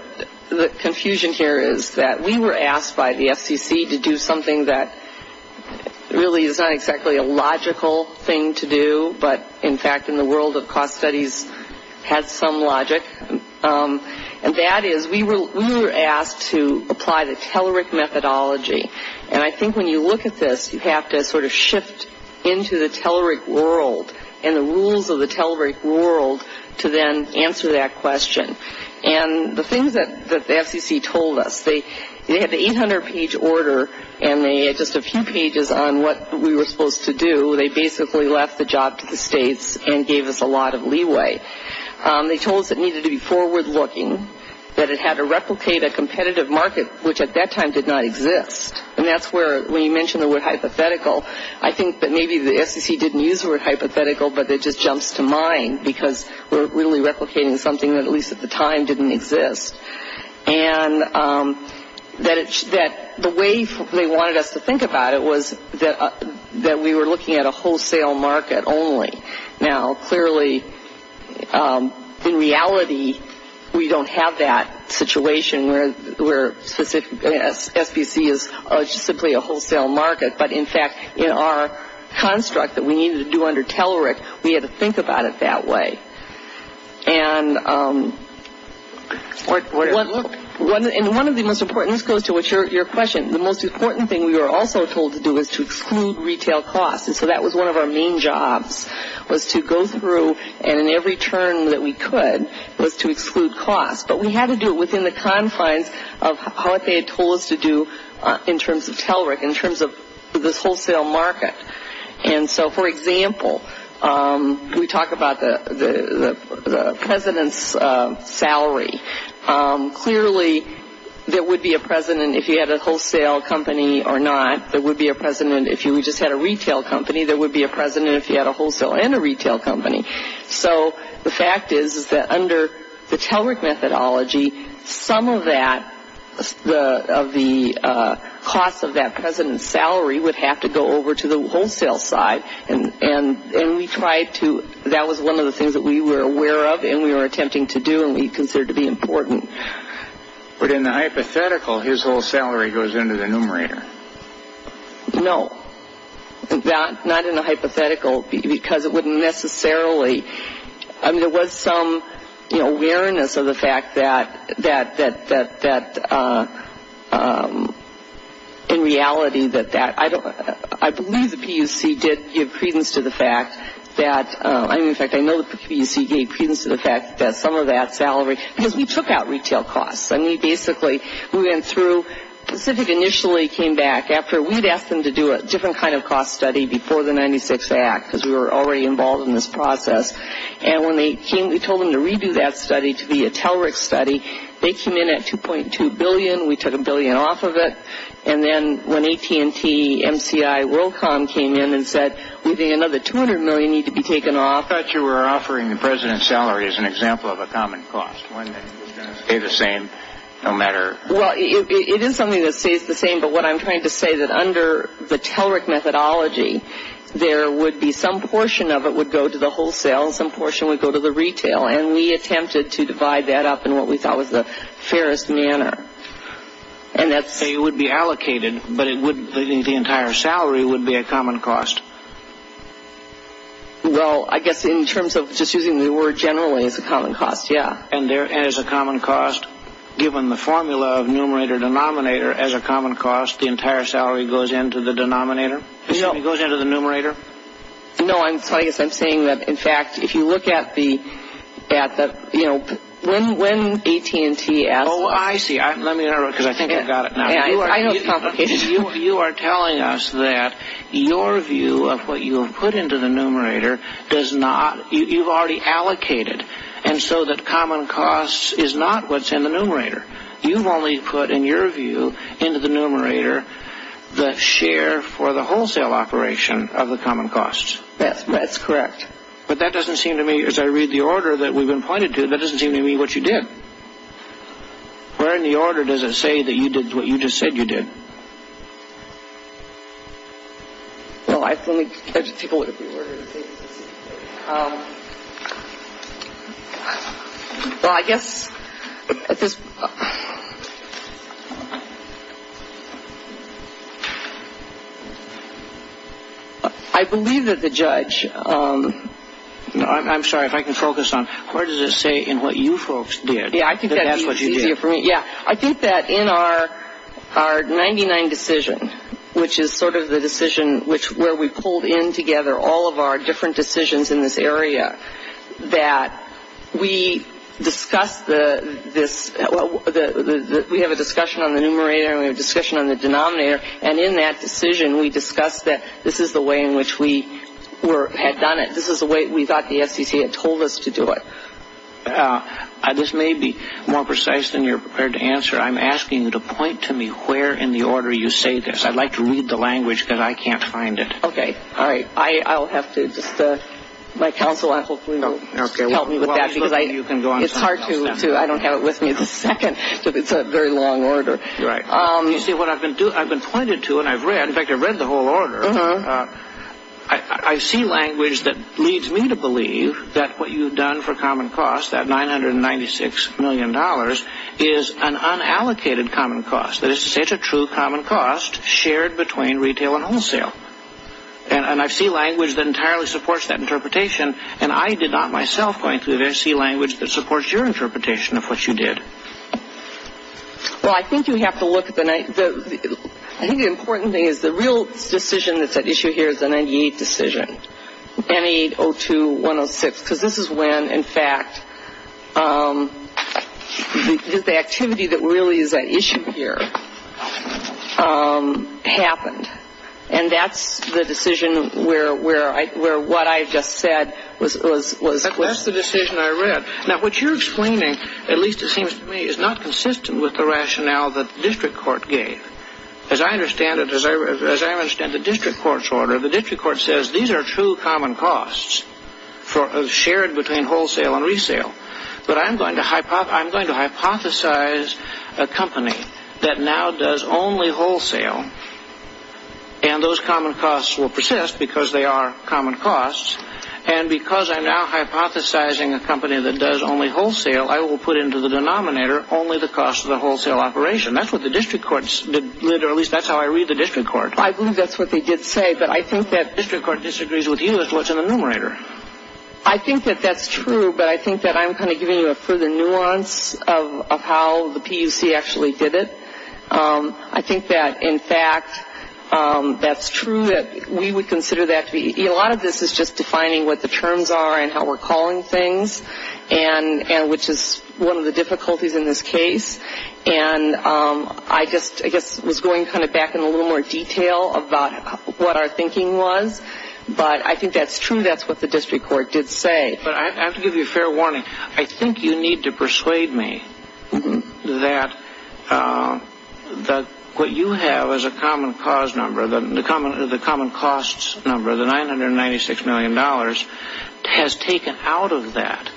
the confusion here is that we were asked by the FCC to do something that really is not exactly a logical thing to do, but, in fact, in the world of cost studies has some logic. And that is we were asked to apply the Telerik methodology. And I think when you look at this, you have to sort of shift into the Telerik world and the rules of the Telerik world to then answer that question. And the things that the FCC told us, they had the 800-page order and they had just a few pages on what we were supposed to do. They basically left the job to the states and gave us a lot of leeway. They told us it needed to be forward-looking, that it had to replicate a competitive market, which at that time did not exist. And that's where, when you mention the word hypothetical, I think that maybe the FCC didn't use the word hypothetical, but it just jumps to mind because we're really replicating something that, at least at the time, didn't exist. And that the way they wanted us to think about it was that we were looking at a wholesale market only. Now, clearly, in reality, we don't have that situation where FCC is simply a wholesale market, but, in fact, in our construct that we needed to do under Telerik, we had to think about it that way. And one of the most important things goes to your question. The most important thing we were also told to do was to exclude retail costs, and so that was one of our main jobs, was to go through and, in every turn that we could, was to exclude costs. But we had to do it within the time frame of how they had told us to do in terms of Telerik, in terms of this wholesale market. And so, for example, we talk about the president's salary. Clearly, there would be a president if he had a wholesale company or not. There would be a president if he just had a retail company. There would be a president if he had a wholesale and a retail company. So the fact is that under the Telerik methodology, some of that, of the cost of that president's salary, would have to go over to the wholesale side. And we tried to – that was one of the things that we were aware of and we were attempting to do and we considered to be important. But in the hypothetical, his whole salary goes into the numerator. No, not in the hypothetical, because it wouldn't necessarily – I mean, there was some awareness of the fact that, in reality, that that – I believe the PUC did give credence to the fact that – in fact, I know the PUC gave credence to the fact that some of that salary – because we took out retail costs and we basically went through – because it initially came back after – we'd asked them to do a different kind of cost study before the 96 Act, because we were already involved in this process. And when they came, we told them to redo that study to be a Telerik study. They came in at $2.2 billion. We took a billion off of it. And then when AT&T, MCI, WorldCom came in and said, we think another $200 million needs to be taken off. I thought you were offering the president's salary as an example of a common cost. It's one that's going to stay the same no matter – Well, it is something that stays the same, but what I'm trying to say is that under the Telerik methodology, there would be – some portion of it would go to the wholesale, some portion would go to the retail, and we attempted to divide that up in what we thought was the fairest manner. And that's – It would be allocated, but it wouldn't – I think the entire salary would be a common cost. Well, I guess in terms of just using the word generally, it's a common cost, yeah. And as a common cost, given the formula of numerator-denominator as a common cost, the entire salary goes into the denominator? No. It goes into the numerator? No, I guess I'm saying that, in fact, if you look at the – when AT&T – Oh, I see. Let me interrupt because I think I've got it now. You are telling us that your view of what you've put into the numerator does not – you've already allocated, and so the common cost is not what's in the numerator. You've only put, in your view, into the numerator, the share for the wholesale operation of the common cost. That's correct. But that doesn't seem to me, as I read the order that we've been pointed to, that doesn't seem to me what you did. Where in the order does it say that you did what you just said you did? Well, I think – Well, I guess – I believe that the judge – I'm sorry, if I can focus on – Where does it say in what you folks did that that's what you did? Yeah, I think that in our 99 decisions, which is sort of the decision where we pulled in together all of our different decisions in this area, that we discussed this – we have a discussion on the numerator and we have a discussion on the denominator, and in that decision we discussed that this is the way in which we had done it. This is the way we thought the FCC had told us to do it. This may be more precise than you're prepared to answer. I'm asking you to point to me where in the order you say this. I'd like to read the language because I can't find it. Okay, all right. I'll have to – my counsel, I hope, will help me with that. It's hard to – I don't have it with me at the second because it's a very long order. You see, what I've been doing – I've been pointed to and I've read – in fact, I've read the whole order. I see language that leads me to believe that what you've done for common cost, that $996 million, is an unallocated common cost. That is to say it's a true common cost shared between retail and wholesale. And I see language that entirely supports that interpretation, and I did not myself point to it. I see language that supports your interpretation of what you did. Well, I think you have to look – I think the important thing is the real decision that's at issue here is the 98 decision, 98-02-106, because this is when, in fact, the activity that really is at issue here happened. And that's the decision where what I just said was – That's the decision I read. Now, what you're explaining, at least it seems to me, is not consistent with the rationale that the district court gave. As I understand it, as I understand the district court's order, the district court says these are true common costs shared between wholesale and resale. But I'm going to hypothesize a company that now does only wholesale, and those common costs will persist because they are common costs. And because I'm now hypothesizing a company that does only wholesale, I will put into the denominator only the cost of the wholesale operation. That's what the district court – or at least that's how I read the district court. I believe that's what they did say, but I think that district court disagrees with you as to what's in the numerator. I think that that's true, but I think that I'm kind of giving you a further nuance of how the PUC actually did it. I think that, in fact, that's true, that we would consider that to be – a lot of this is just defining what the terms are and how we're calling things, which is one of the difficulties in this case. And I guess I was going kind of back in a little more detail about what our thinking was, but I think that's true, that's what the district court did say. But I have to give you a fair warning. I think you need to persuade me that what you have as a common cost number, the $996 million, has taken out of that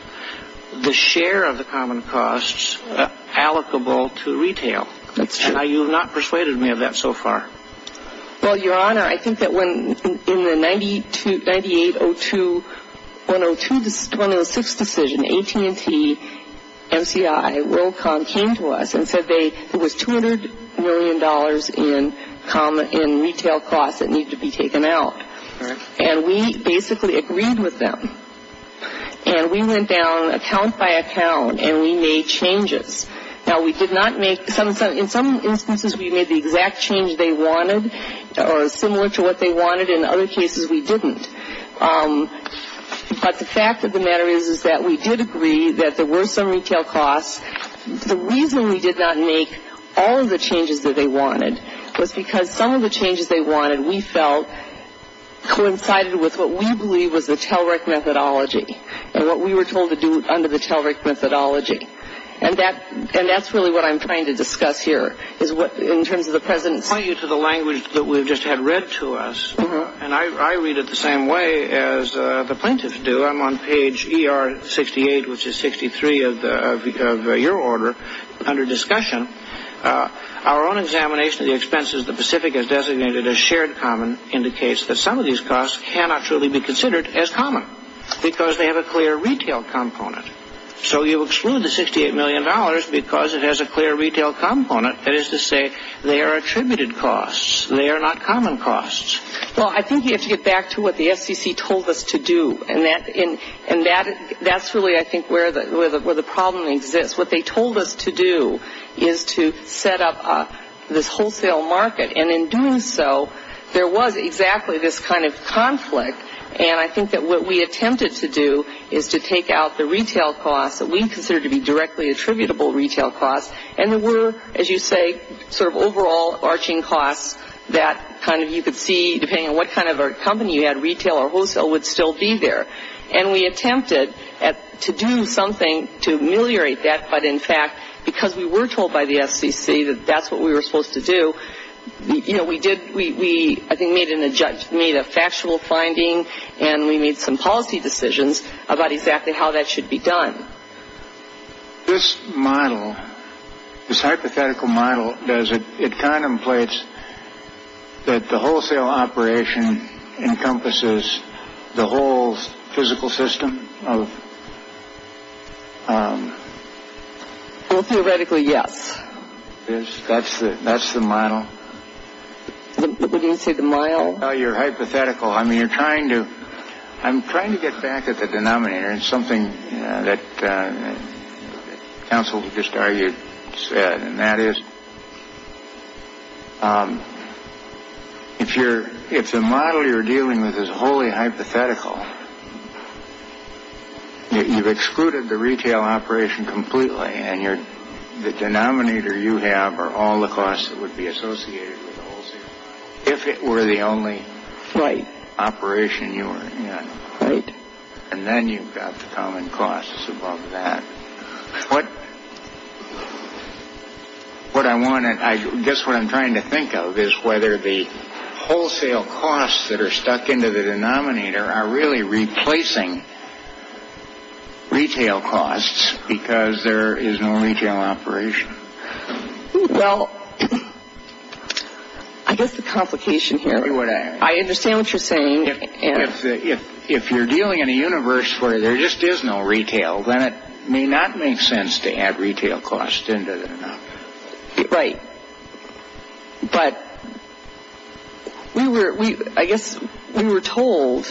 the share of the common costs allocable to retail. And you have not persuaded me of that so far. Well, Your Honor, I think that in the 98-02-106 decision, AT&T, NCI, WorldCom came to us and said there was $200 million in retail costs that needed to be taken out. And we basically agreed with them. And we went down account by account and we made changes. Now, we did not make – in some instances we made the exact change they wanted or similar to what they wanted. In other cases we didn't. But the fact of the matter is that we did agree that there were some retail costs. The reason we did not make all of the changes that they wanted was because some of the changes they wanted, we felt coincided with what we believe was the Telric methodology and what we were told to do under the Telric methodology. And that's really what I'm trying to discuss here, in terms of the President pointing you to the language that we just had read to us. And I read it the same way as the plaintiffs do. I'm on page ER68, which is 63 of your order, under discussion. Our own examination of the expenses the Pacific has designated as shared common indicates that some of these costs cannot truly be considered as common because they have a clear retail component. So you exclude the $68 million because it has a clear retail component. That is to say, they are attributed costs. They are not common costs. Well, I think you have to get back to what the FCC told us to do. And that's really, I think, where the problem exists. What they told us to do is to set up this wholesale market. And in doing so, there was exactly this kind of conflict. And I think that what we attempted to do is to take out the retail costs that we considered to be directly attributable retail costs. And there were, as you say, sort of overall arching costs that kind of you could see, depending on what kind of a company you had, retail or wholesale would still be there. And we attempted to do something to ameliorate that, but in fact, because we were told by the FCC that that's what we were supposed to do, you know, we did, we, I think, made a factual finding and we made some policy decisions about exactly how that should be done. This model, this hypothetical model, does it contemplate that the wholesale operation encompasses the whole physical system? Theoretically, yes. That's the model? What did you say, the model? Oh, your hypothetical. I mean, you're trying to, I'm trying to get back at the denominator. It's something that counsel just argued and said, and that is if the model you're dealing with is wholly hypothetical, you've excluded the retail operation completely, and the denominator you have are all the costs that would be associated with the wholesale, if it were the only operation you had. Right. And then you've got the common costs above that. What I want to, I guess what I'm trying to think of is whether the wholesale costs that are stuck into the denominator are really replacing retail costs because there is no retail operation. Well, I guess the complication here, I understand what you're saying. If you're dealing in a universe where there just is no retail, then it may not make sense to add retail costs into the denominator. Right. But I guess we were told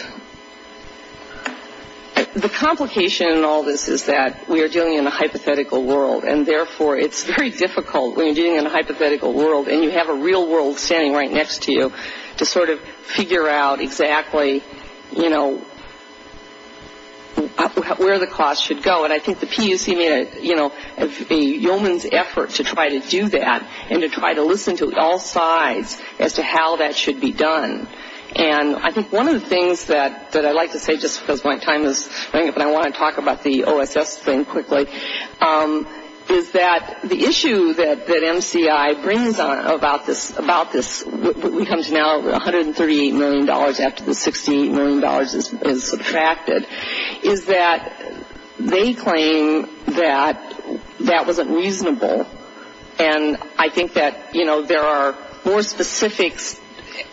the complication in all this is that we are dealing in a hypothetical world, and therefore it's very difficult when you're dealing in a hypothetical world and you have a real world standing right next to you to sort of figure out exactly, you know, where the costs should go. And I think the PUC, you know, it's a yeoman's effort to try to do that and to try to listen to all sides as to how that should be done. And I think one of the things that I'd like to say just because my time is running and I want to talk about the OSS thing quickly, is that the issue that MCI brings about this, what becomes now $138 million after $68 million is subtracted, is that they claim that that wasn't reasonable. And I think that, you know, there are more specific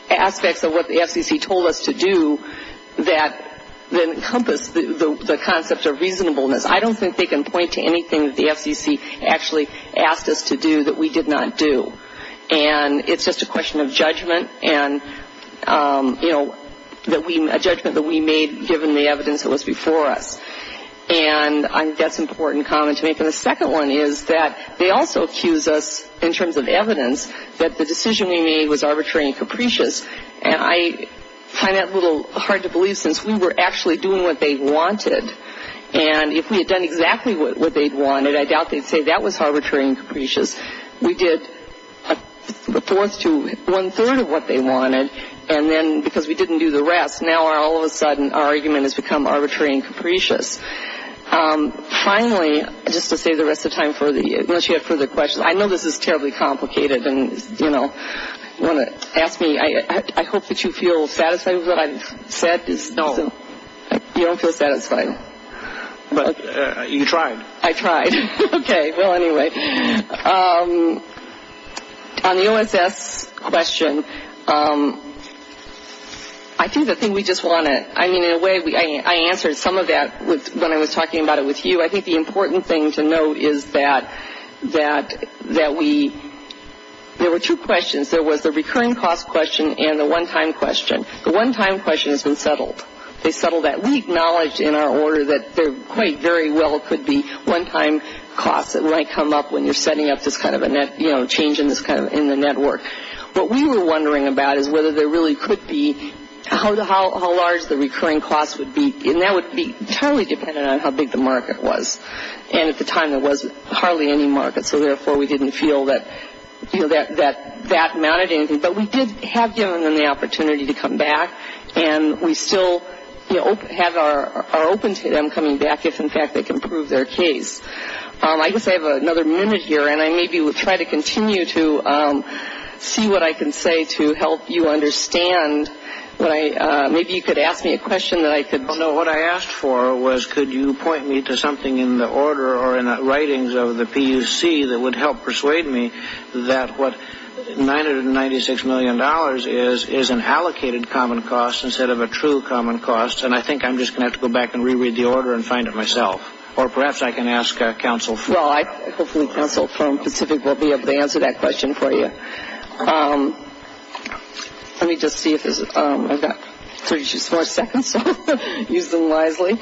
aspects of what the FCC told us to do that encompass the concepts of reasonableness. I don't think they can point to anything that the FCC actually asked us to do that we did not do. And it's just a question of judgment and, you know, a judgment that we made given the evidence that was before us. And that's an important comment to make. And the second one is that they also accuse us in terms of evidence that the decision they made was arbitrary and capricious. And I find that a little hard to believe since we were actually doing what they wanted. And if we had done exactly what they wanted, I doubt they'd say that was arbitrary and capricious. We did a fourth to one-third of what they wanted and then because we didn't do the rest, now all of a sudden our argument has become arbitrary and capricious. Finally, just to save the rest of the time for the questions, I know this is terribly complicated and, you know, you want to ask me, I hope that you feel satisfied with what I've said. No, I don't feel satisfied. You tried. I tried. Okay, well, anyway. On the OSS question, I think the thing we just wanted, I mean, in a way, I answered some of that when I was talking about it with you. I think the important thing to note is that we, there were two questions. There was a recurring cost question and a one-time question. The one-time question has been settled. They settled that. We acknowledged in our order that there quite very well could be one-time costs that might come up when you're setting up this kind of a net, you know, change in the network. What we were wondering about is whether there really could be, how large the recurring costs would be. And that would be entirely dependent on how big the market was. And at the time, there was hardly any market, so therefore we didn't feel that that mattered. But we did have given them the opportunity to come back, and we still have our open to them coming back, if, in fact, they can prove their case. I guess I have another minute here, and I maybe will try to continue to see what I can say to help you understand. Maybe you could ask me a question that I could. No, what I asked for was could you point me to something in the order or in the writings of the PUC that would help persuade me that what $996 million is is an allocated common cost instead of a true common cost. And I think I'm just going to have to go back and reread the order and find it myself. Or perhaps I can ask our counsel. Well, I think the counsel from Pacific will be able to answer that question for you. Let me just see if I've got three or four seconds to use them wisely.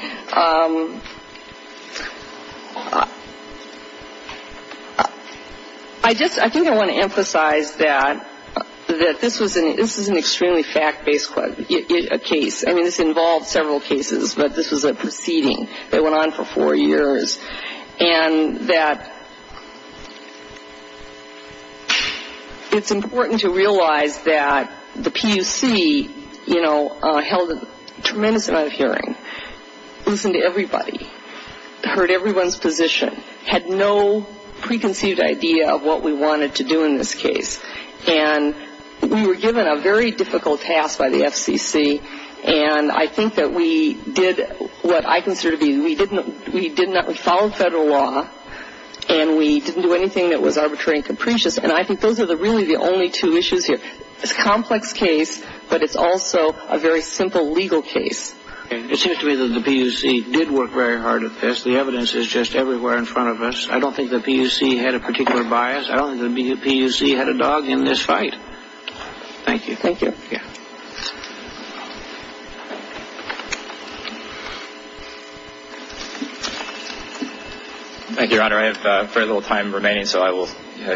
I think I want to emphasize that this was an extremely fact-based case. I mean, this involved several cases, but this was a proceeding that went on for four years. And that it's important to realize that the PUC, you know, held a tremendous amount of hearing, listened to everybody, heard everyone's position, had no preconceived idea of what we wanted to do in this case. And we were given a very difficult task by the FPC, and I think that we did what I consider to be we followed federal law, and we didn't do anything that was arbitrary and capricious. And I think those are really the only two issues here. It's a complex case, but it's also a very simple legal case. It seems to me that the PUC did work very hard at this. The evidence is just everywhere in front of us. I don't think the PUC had a particular bias. I don't think the PUC had a dog in this fight. Thank you. Thank you. Thank you, Your Honor. I have very little time remaining, so I will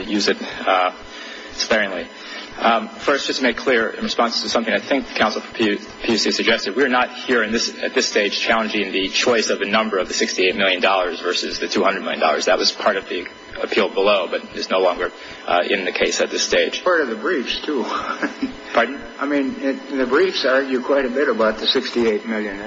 use it sparingly. First, just to make clear in response to something I think the counsel for PUC suggested, we're not here at this stage challenging the choice of the number of the $68 million versus the $200 million. That was part of the appeal below, but it's no longer in the case at this stage. Part of the briefs, too. Pardon? I mean, the briefs argue quite a bit about the $68 million.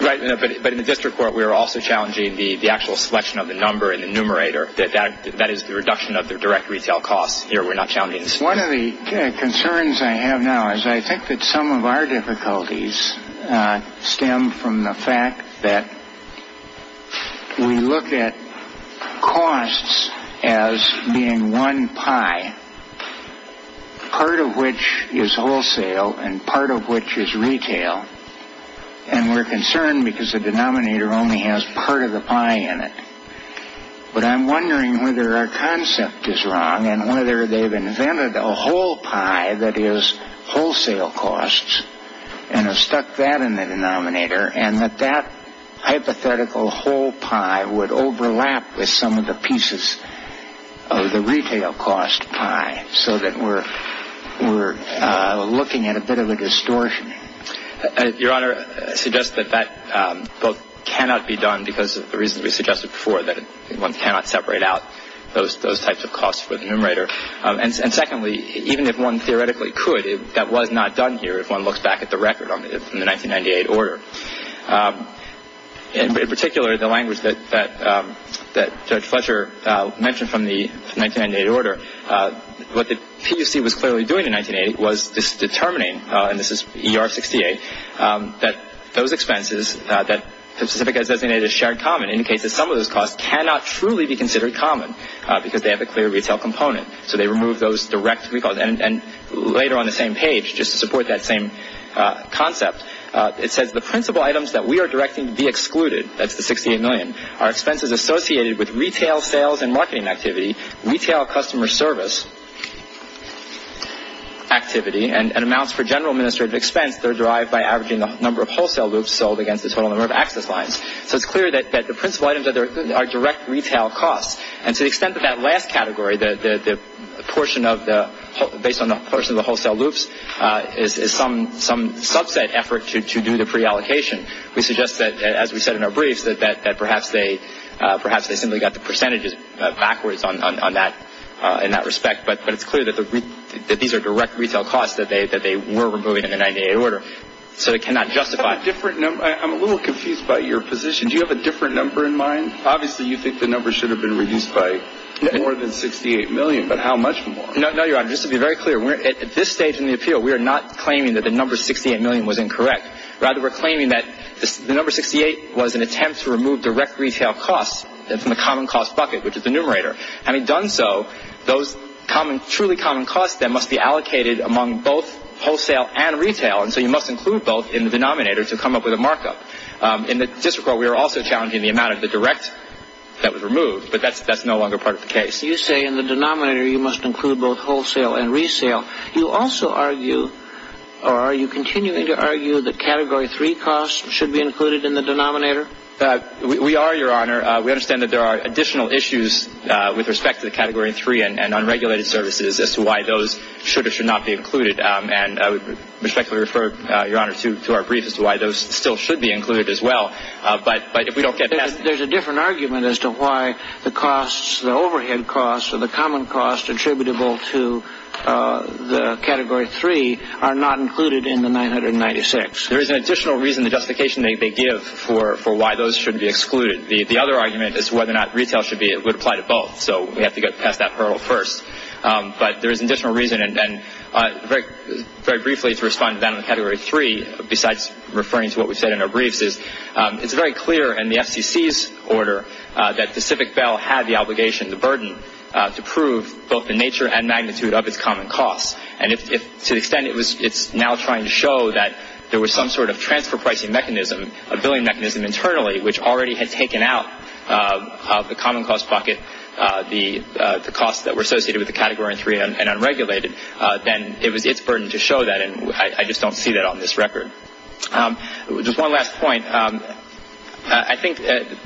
Right. But in the district court, we are also challenging the actual selection of the number in the numerator. That is the reduction of the direct retail cost here. We're not challenging it. One of the concerns I have now is I think that some of our difficulties stem from the fact that we look at costs as being one pie, part of which is wholesale and part of which is retail. And we're concerned because the denominator only has part of the pie in it. But I'm wondering whether our concept is wrong and whether they've invented a whole pie that is wholesale costs and have stuck that in the denominator, and that that hypothetical whole pie would overlap with some of the pieces of the retail cost pie so that we're looking at a bit of a distortion. Your Honor, I suggest that that cannot be done because of the reason we suggested before, that one cannot separate out those types of costs with the numerator. And secondly, even if one theoretically could, that was not done here, if one looks back at the record from the 1998 order. In particular, the language that Judge Fletcher mentioned from the 1998 order, what the TUC was clearly doing in 1998 was determining, and this is ER 68, that those expenses, that the certificate designated as shared common, indicates that some of those costs cannot truly be considered common because they have a clear retail component. So they remove those direct, and later on the same page, just to support that same concept, it says the principal items that we are directing to be excluded, that's the $68 million, are expenses associated with retail sales and marketing activity, retail customer service activity, and amounts for general administrative expense that are derived by averaging the number of wholesale loops sold against the total number of active lines. So it's clear that the principal items are direct retail costs. And to the extent that that last category, the portion of the wholesale loops, is some subset effort to do the preallocation, we suggest that, as we said in our briefs, that perhaps they simply got the percentages backwards in that respect, but it's clear that these are direct retail costs that they were removing in the 1998 order, so they cannot justify it. I'm a little confused by your position. Do you have a different number in mind? Obviously, you think the number should have been reduced by more than $68 million, but how much more? No, Your Honor, just to be very clear, at this stage in the appeal, we are not claiming that the number $68 million was incorrect. Rather, we're claiming that the number $68 was an attempt to remove direct retail costs from the common cost bucket, which is the numerator. Having done so, those truly common costs then must be allocated among both wholesale and retail, and so you must include both in the denominator to come up with a markup. In the district court, we are also challenging the amount of the direct that was removed, but that's no longer part of the case. You say in the denominator you must include both wholesale and resale. You also argue, or are you continuing to argue, that Category 3 costs should be included in the denominator? We are, Your Honor. We understand that there are additional issues with respect to the Category 3 and unregulated services as to why those should or should not be included, and I would respectfully refer, Your Honor, to our brief as to why those still should be included as well. But if we don't get that... There's a different argument as to why the costs, the overhead costs, or the common costs attributable to the Category 3 are not included in the 996. There is an additional reason, the justification they give for why those should be excluded. The other argument is whether or not retail would apply to both, so we have to get past that hurdle first. But there is an additional reason, and very briefly to respond to that on Category 3, besides referring to what we said in our briefs, is it's very clear in the FCC's order that Pacific Bell had the obligation, the burden, to prove both the nature and magnitude of its common costs. To the extent it's now trying to show that there was some sort of transfer pricing mechanism, a billing mechanism internally, which already had taken out the common cost pocket, the costs that were associated with the Category 3 and unregulated, then it's a burden to show that, and I just don't see that on this record. Just one last point. I think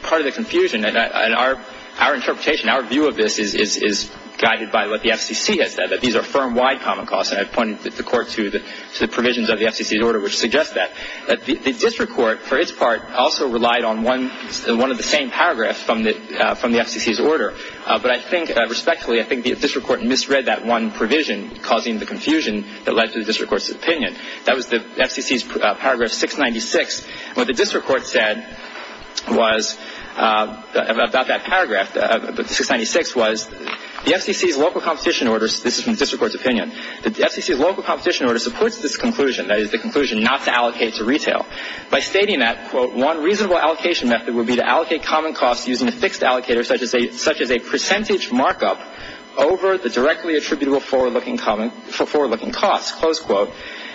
part of the confusion in our interpretation, our view of this, is guided by what the FCC has said, that these are firm-wide common costs, and I pointed the Court to the provisions of the FCC's order which suggest that. The District Court, for its part, also relied on one of the same paragraphs from the FCC's order, but I think, respectfully, I think the District Court misread that one provision, causing the confusion that led to the District Court's opinion. That was the FCC's Paragraph 696. What the District Court said about that paragraph, 696, was the FCC's local competition order, this is from the District Court's opinion, the FCC's local competition order supports this conclusion, that is the conclusion not to allocate to retail. By stating that, quote, one reasonable allocation method would be to allocate common costs using a fixed allocator such as a percentage markup over the directly attributable for-looking costs, close quote.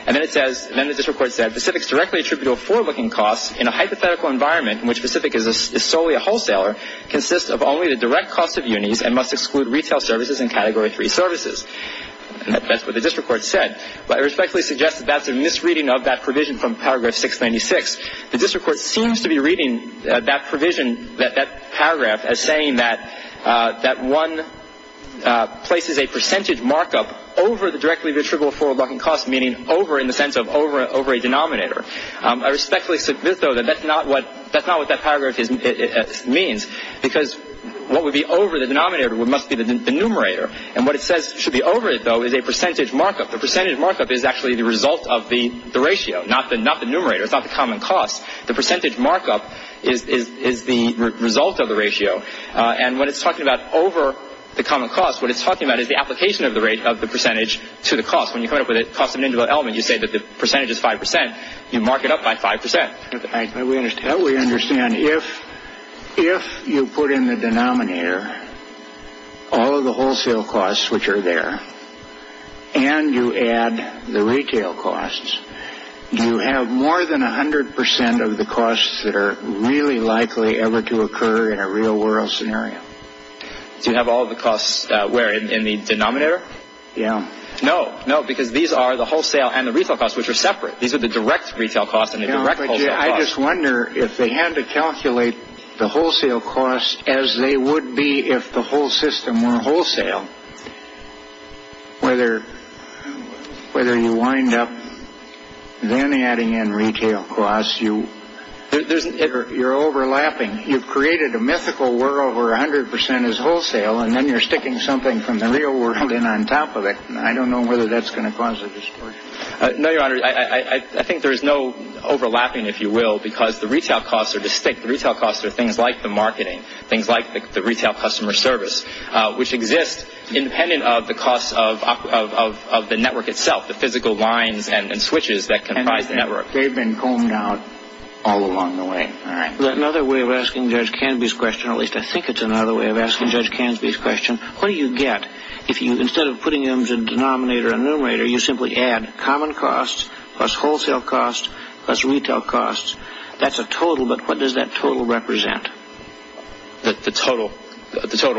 And then it says, and then the District Court said, specifics directly attributable for-looking costs in a hypothetical environment in which the specific is solely a wholesaler, consists of only the direct cost of unis and must exclude retail services and Category 3 services. And that's what the District Court said. I respectfully suggest that that's a misreading of that provision from Paragraph 696. The District Court seems to be reading that provision, that paragraph, as saying that one places a percentage markup over the directly attributable for-looking costs, meaning over in the sense of over a denominator. I respectfully submit, though, that that's not what that paragraph means because what would be over the denominator must be the numerator, and what it says should be over it, though, is a percentage markup. A percentage markup is actually the result of the ratio, not the numerator. It's not the common cost. The percentage markup is the result of the ratio, and what it's talking about over the common cost, what it's talking about is the application of the rate of the percentage to the cost. When you come up with a cost of individual elements, you say that the percentage is 5%. You mark it up by 5%. We understand. If you put in the denominator all of the wholesale costs, which are there, and you add the retail costs, do you have more than 100% of the costs that are really likely ever to occur in a real-world scenario? Do you have all the costs in the denominator? Yes. No, because these are the wholesale and the retail costs, which are separate. These are the direct retail costs and the direct wholesale costs. I just wonder if they had to calculate the wholesale costs as they would be if the whole system were wholesale, whether you wind up then adding in retail costs. You're overlapping. You've created a mythical world where 100% is wholesale, and then you're sticking something from the real world in on top of it. I don't know whether that's going to cause a dispersion. No, Your Honor. I think there is no overlapping, if you will, because the retail costs are distinct. The retail costs are things like the marketing, things like the retail customer service, which exist independent of the cost of the network itself, the physical lines and switches that comprise the network. They've been combed out all along the way. Another way of asking Judge Canby's question, at least I think it's another way of asking Judge Canby's question, what do you get? Instead of putting them into a denominator or numerator, you simply add common costs plus wholesale costs plus retail costs. That's a total, but what does that total represent? The total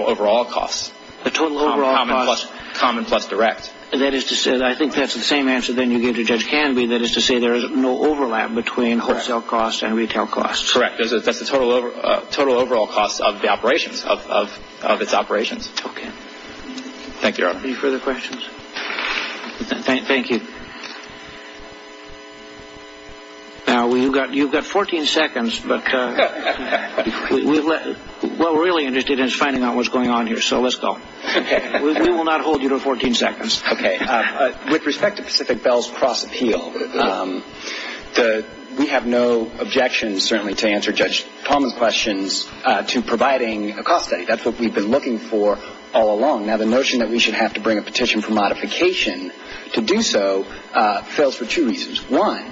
overall costs. The total overall costs. Common plus direct. I think that's the same answer that you gave to Judge Canby, that is to say there is no overlap between wholesale costs and retail costs. Correct. Because that's the total overall cost of the operation, of its operations. Okay. Thank you, Your Honor. Any further questions? Thank you. You've got 14 seconds, but we're really interested in finding out what's going on here, so let's go. We will not hold you to 14 seconds. Okay. With respect to Pacific Bell's cross-appeal, we have no objections, certainly, to answer Judge Canby's questions to providing a cost study. That's what we've been looking for all along. Now, the notion that we should have to bring a petition for modification to do so fails for two reasons. One,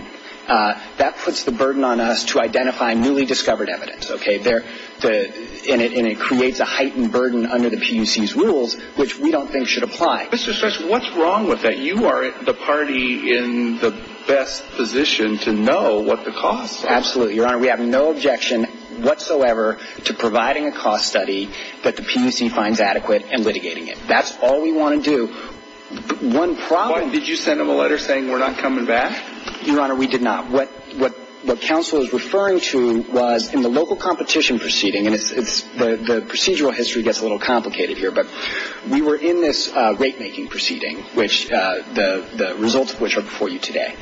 that puts the burden on us to identify newly discovered evidence, okay, and it creates a heightened burden under the PUC's rules, which we don't think should apply. Mr. Sessions, what's wrong with that? We're in the best position to know what the costs are. Absolutely, Your Honor. We have no objection whatsoever to providing a cost study that the PUC finds adequate and litigating it. That's all we want to do. One problem- What? Did you send them a letter saying we're not coming back? Your Honor, we did not. What counsel is referring to was in the local competition proceeding, and the procedural history gets a little complicated here, but we were in this rate-making proceeding, the results of which are before you today.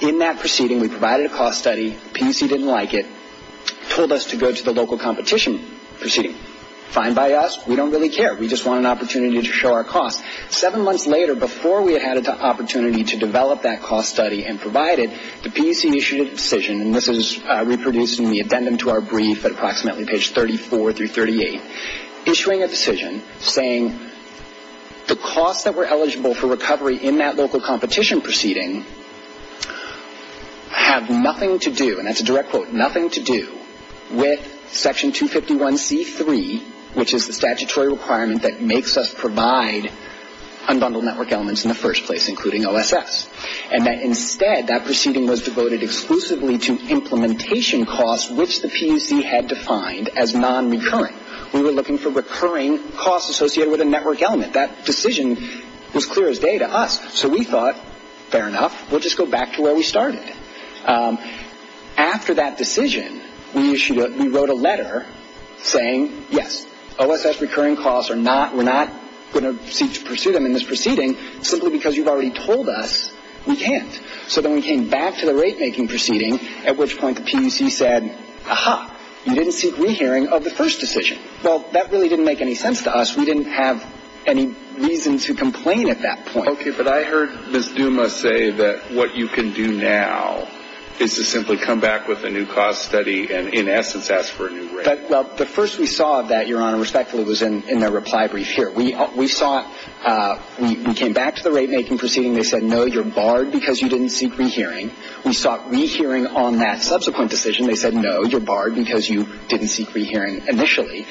In that proceeding, we provided a cost study. PUC didn't like it, told us to go to the local competition proceeding. Fine by us. We don't really care. We just want an opportunity to show our cost. Seven months later, before we had an opportunity to develop that cost study and provide it, the PUC issued a decision, and this is reproduced in the addendum to our brief at approximately page 34 through 38, issuing a decision saying the costs that were eligible for recovery in that local competition proceeding have nothing to do, and that's a direct quote, nothing to do with Section 251C.3, which is the statutory requirement that makes us provide unbundled network elements in the first place, including OSS, and that instead that proceeding was devoted exclusively to implementation costs, which the PUC had defined as non-recurrent. We were looking for recurring costs associated with a network element. That decision was clear as day to us, so we thought, fair enough, we'll just go back to where we started. After that decision, we wrote a letter saying, yes, OSS recurring costs are not, we're not going to proceed on this proceeding simply because you've already told us we can't. So then we came back to the rate-making proceeding, at which point the PUC said, aha, you didn't seek rehearing of the first decision. Well, that really didn't make any sense to us. We didn't have any reason to complain at that point. Okay, but I heard Ms. Duma say that what you can do now is to simply come back with a new cost study and, in essence, ask for a new rate. Well, the first we saw of that, Your Honor, respectfully, was in the reply brief here. We came back to the rate-making proceeding. They said, no, you're barred because you didn't seek rehearing. We sought rehearing on that subsequent decision. They said, no, you're barred because you didn't seek rehearing initially.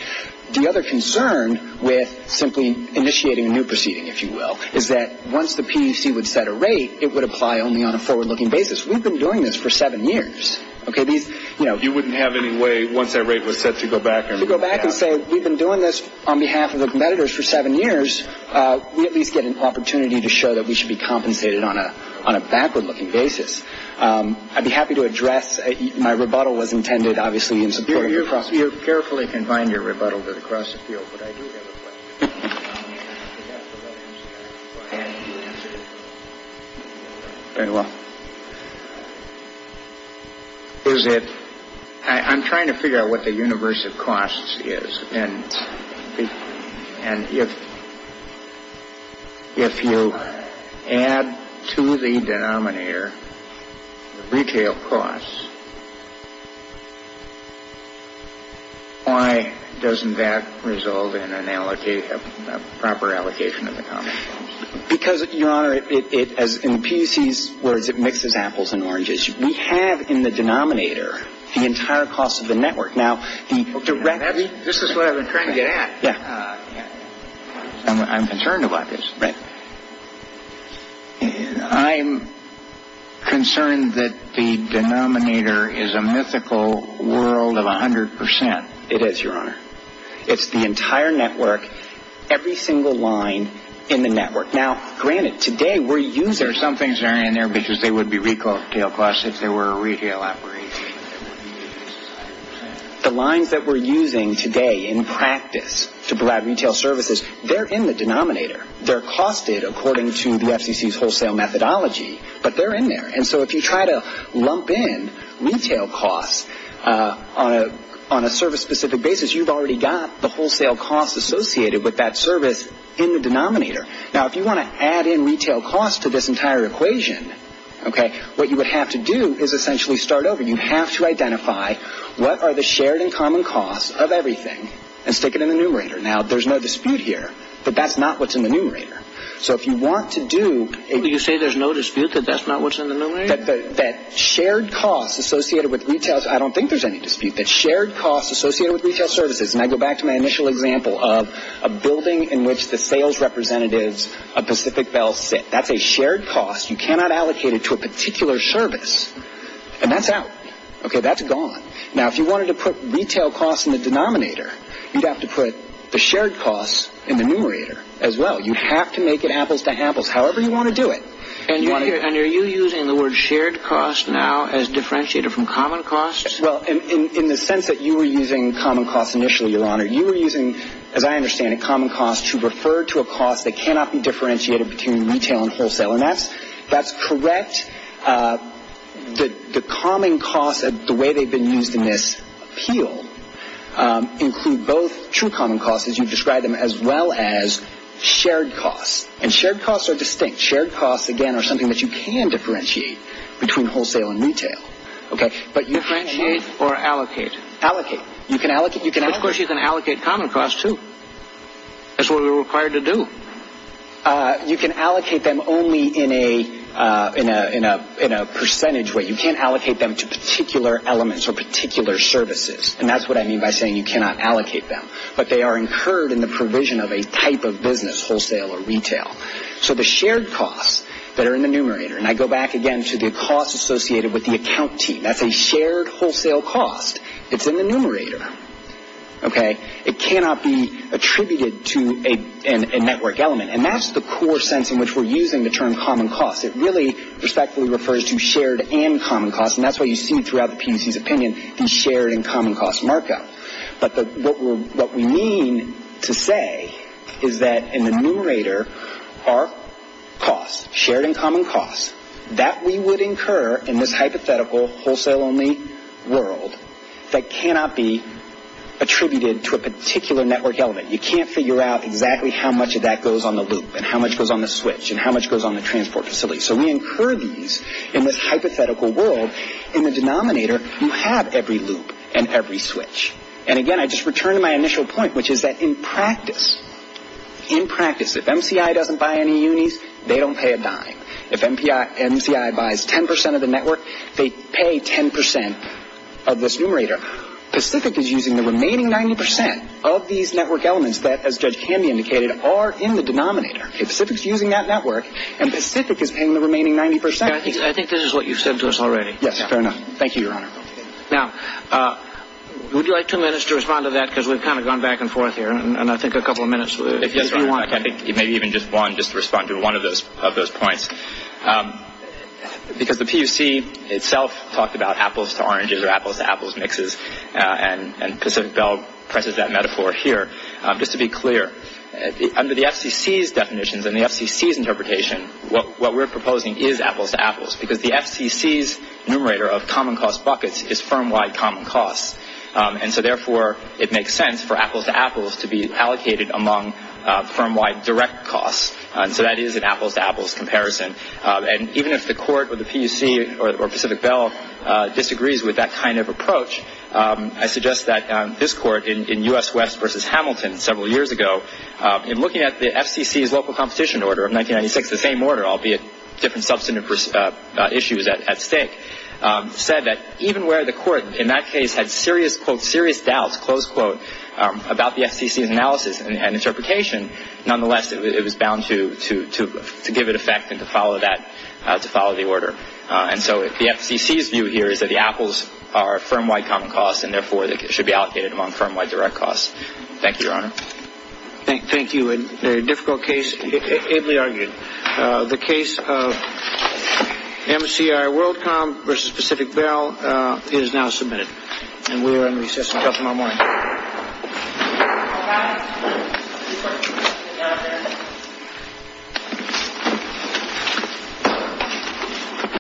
The other concern with simply initiating a new proceeding, if you will, is that once the PUC would set a rate, it would apply only on a forward-looking basis. We've been doing this for seven years. You wouldn't have any way, once that rate was set, to go back and say, we've been doing this on behalf of the competitors for seven years. We at least get an opportunity to show that we should be compensated on a backward-looking basis. I'd be happy to address, my rebuttal was intended, obviously, in support of the process. I don't know if you carefully combined your rebuttal to the cross-appeal, but I do have a question. I'm trying to figure out what the universe of costs is. And if you add to the denominator retail costs, why doesn't that resolve in a proper allocation of the costs? Because, Your Honor, in the PUC's words, it mixes apples and oranges. We have in the denominator the entire cost of the network. This is what I've been trying to get at. I'm concerned about this. I'm concerned that the denominator is a mythical world of 100%. It is, Your Honor. It's the entire network, every single line in the network. Some things are in there because they would be retail costs if they were a retail operation. The lines that we're using today in practice to provide retail services, they're in the denominator. They're costed according to the FCC's wholesale methodology, but they're in there. And so if you try to lump in retail costs on a service-specific basis, you've already got the wholesale costs associated with that service in the denominator. Now, if you want to add in retail costs to this entire equation, what you would have to do is essentially start over. You have to identify what are the shared and common costs of everything and stick it in the numerator. Now, there's no dispute here, but that's not what's in the numerator. So if you want to do... Did you say there's no dispute that that's not what's in the numerator? That shared costs associated with retails, I don't think there's any dispute. That shared costs associated with retail services, and I go back to my initial example of a building in which the sales representative of Pacific Belfast sits. That's a shared cost. You cannot allocate it to a particular service, and that's out. Okay, that's gone. Now, if you wanted to put retail costs in the denominator, you'd have to put the shared costs in the numerator as well. You have to make it apples to apples, however you want to do it. And are you using the word shared costs now as differentiated from common costs? You were using, as I understand it, common costs to refer to a cost that cannot be differentiated between retail and wholesale, and that's correct. The common costs, the way they've been used in this appeal, include both true common costs, as you've described them, as well as shared costs. And shared costs are distinct. Shared costs, again, are something that you can differentiate between wholesale and retail. But differentiate or allocate? Allocate. Of course you can allocate common costs, too. That's what we're required to do. You can allocate them only in a percentage way. You can't allocate them to particular elements or particular services, and that's what I mean by saying you cannot allocate them. But they are incurred in the provision of a type of business, wholesale or retail. So the shared costs that are in the numerator, and I go back again to the costs associated with the account team. That's a shared wholesale cost. It's in the numerator. Okay? It cannot be attributed to a network element, and that's the core sense in which we're using the term common costs. It really respectfully refers to shared and common costs, and that's why you see throughout the PDC's opinion the shared and common costs markup. But what we mean to say is that in the numerator are costs, shared and common costs. That we would incur in this hypothetical wholesale-only world that cannot be attributed to a particular network element. You can't figure out exactly how much of that goes on the loop and how much goes on the switch and how much goes on the transport facility. So we incur these in this hypothetical world in the denominator. You have every loop and every switch. And again, I just return to my initial point, which is that in practice, in practice, if MCI doesn't buy any unis, they don't pay a dime. If MCI buys 10% of the network, they pay 10% of this numerator. Pacific is using the remaining 90% of these network elements that, as can be indicated, are in the denominator. Pacific's using that network, and Pacific is paying the remaining 90%. I think this is what you've said to us already. Yes, fair enough. Thank you, Your Honor. Now, would you like two minutes to respond to that? Because we've kind of gone back and forth here, and I think a couple of minutes would be fine. I think maybe even just one, just to respond to one of those points. Because the PUC itself talks about apples to oranges or apples to apples mixes, and Pacific Bell presses that metaphor here. Just to be clear, under the FCC's definitions and the FCC's interpretation, what we're proposing is apples to apples, because the FCC's numerator of common cost buckets is firm-wide common costs. And so, therefore, it makes sense for apples to apples to be allocated among firm-wide direct costs. So that is an apples to apples comparison. And even if the court or the PUC or Pacific Bell disagrees with that kind of approach, I suggest that this court in U.S. West v. Hamilton several years ago, in looking at the FCC's local competition order of 1996, the same order, albeit different substantive issues at stake, said that even where the court in that case had serious doubts, close quote, about the FCC's analysis and interpretation, nonetheless it was bound to give it effect and to follow the order. And so the FCC's view here is that the apples are firm-wide common costs, and therefore they should be allocated among firm-wide direct costs. Thank you, Your Honor. Thank you. A difficult case, ably argued. The case of MCR Worldcom v. Pacific Bell is now submitted. And we are in recess until tomorrow morning.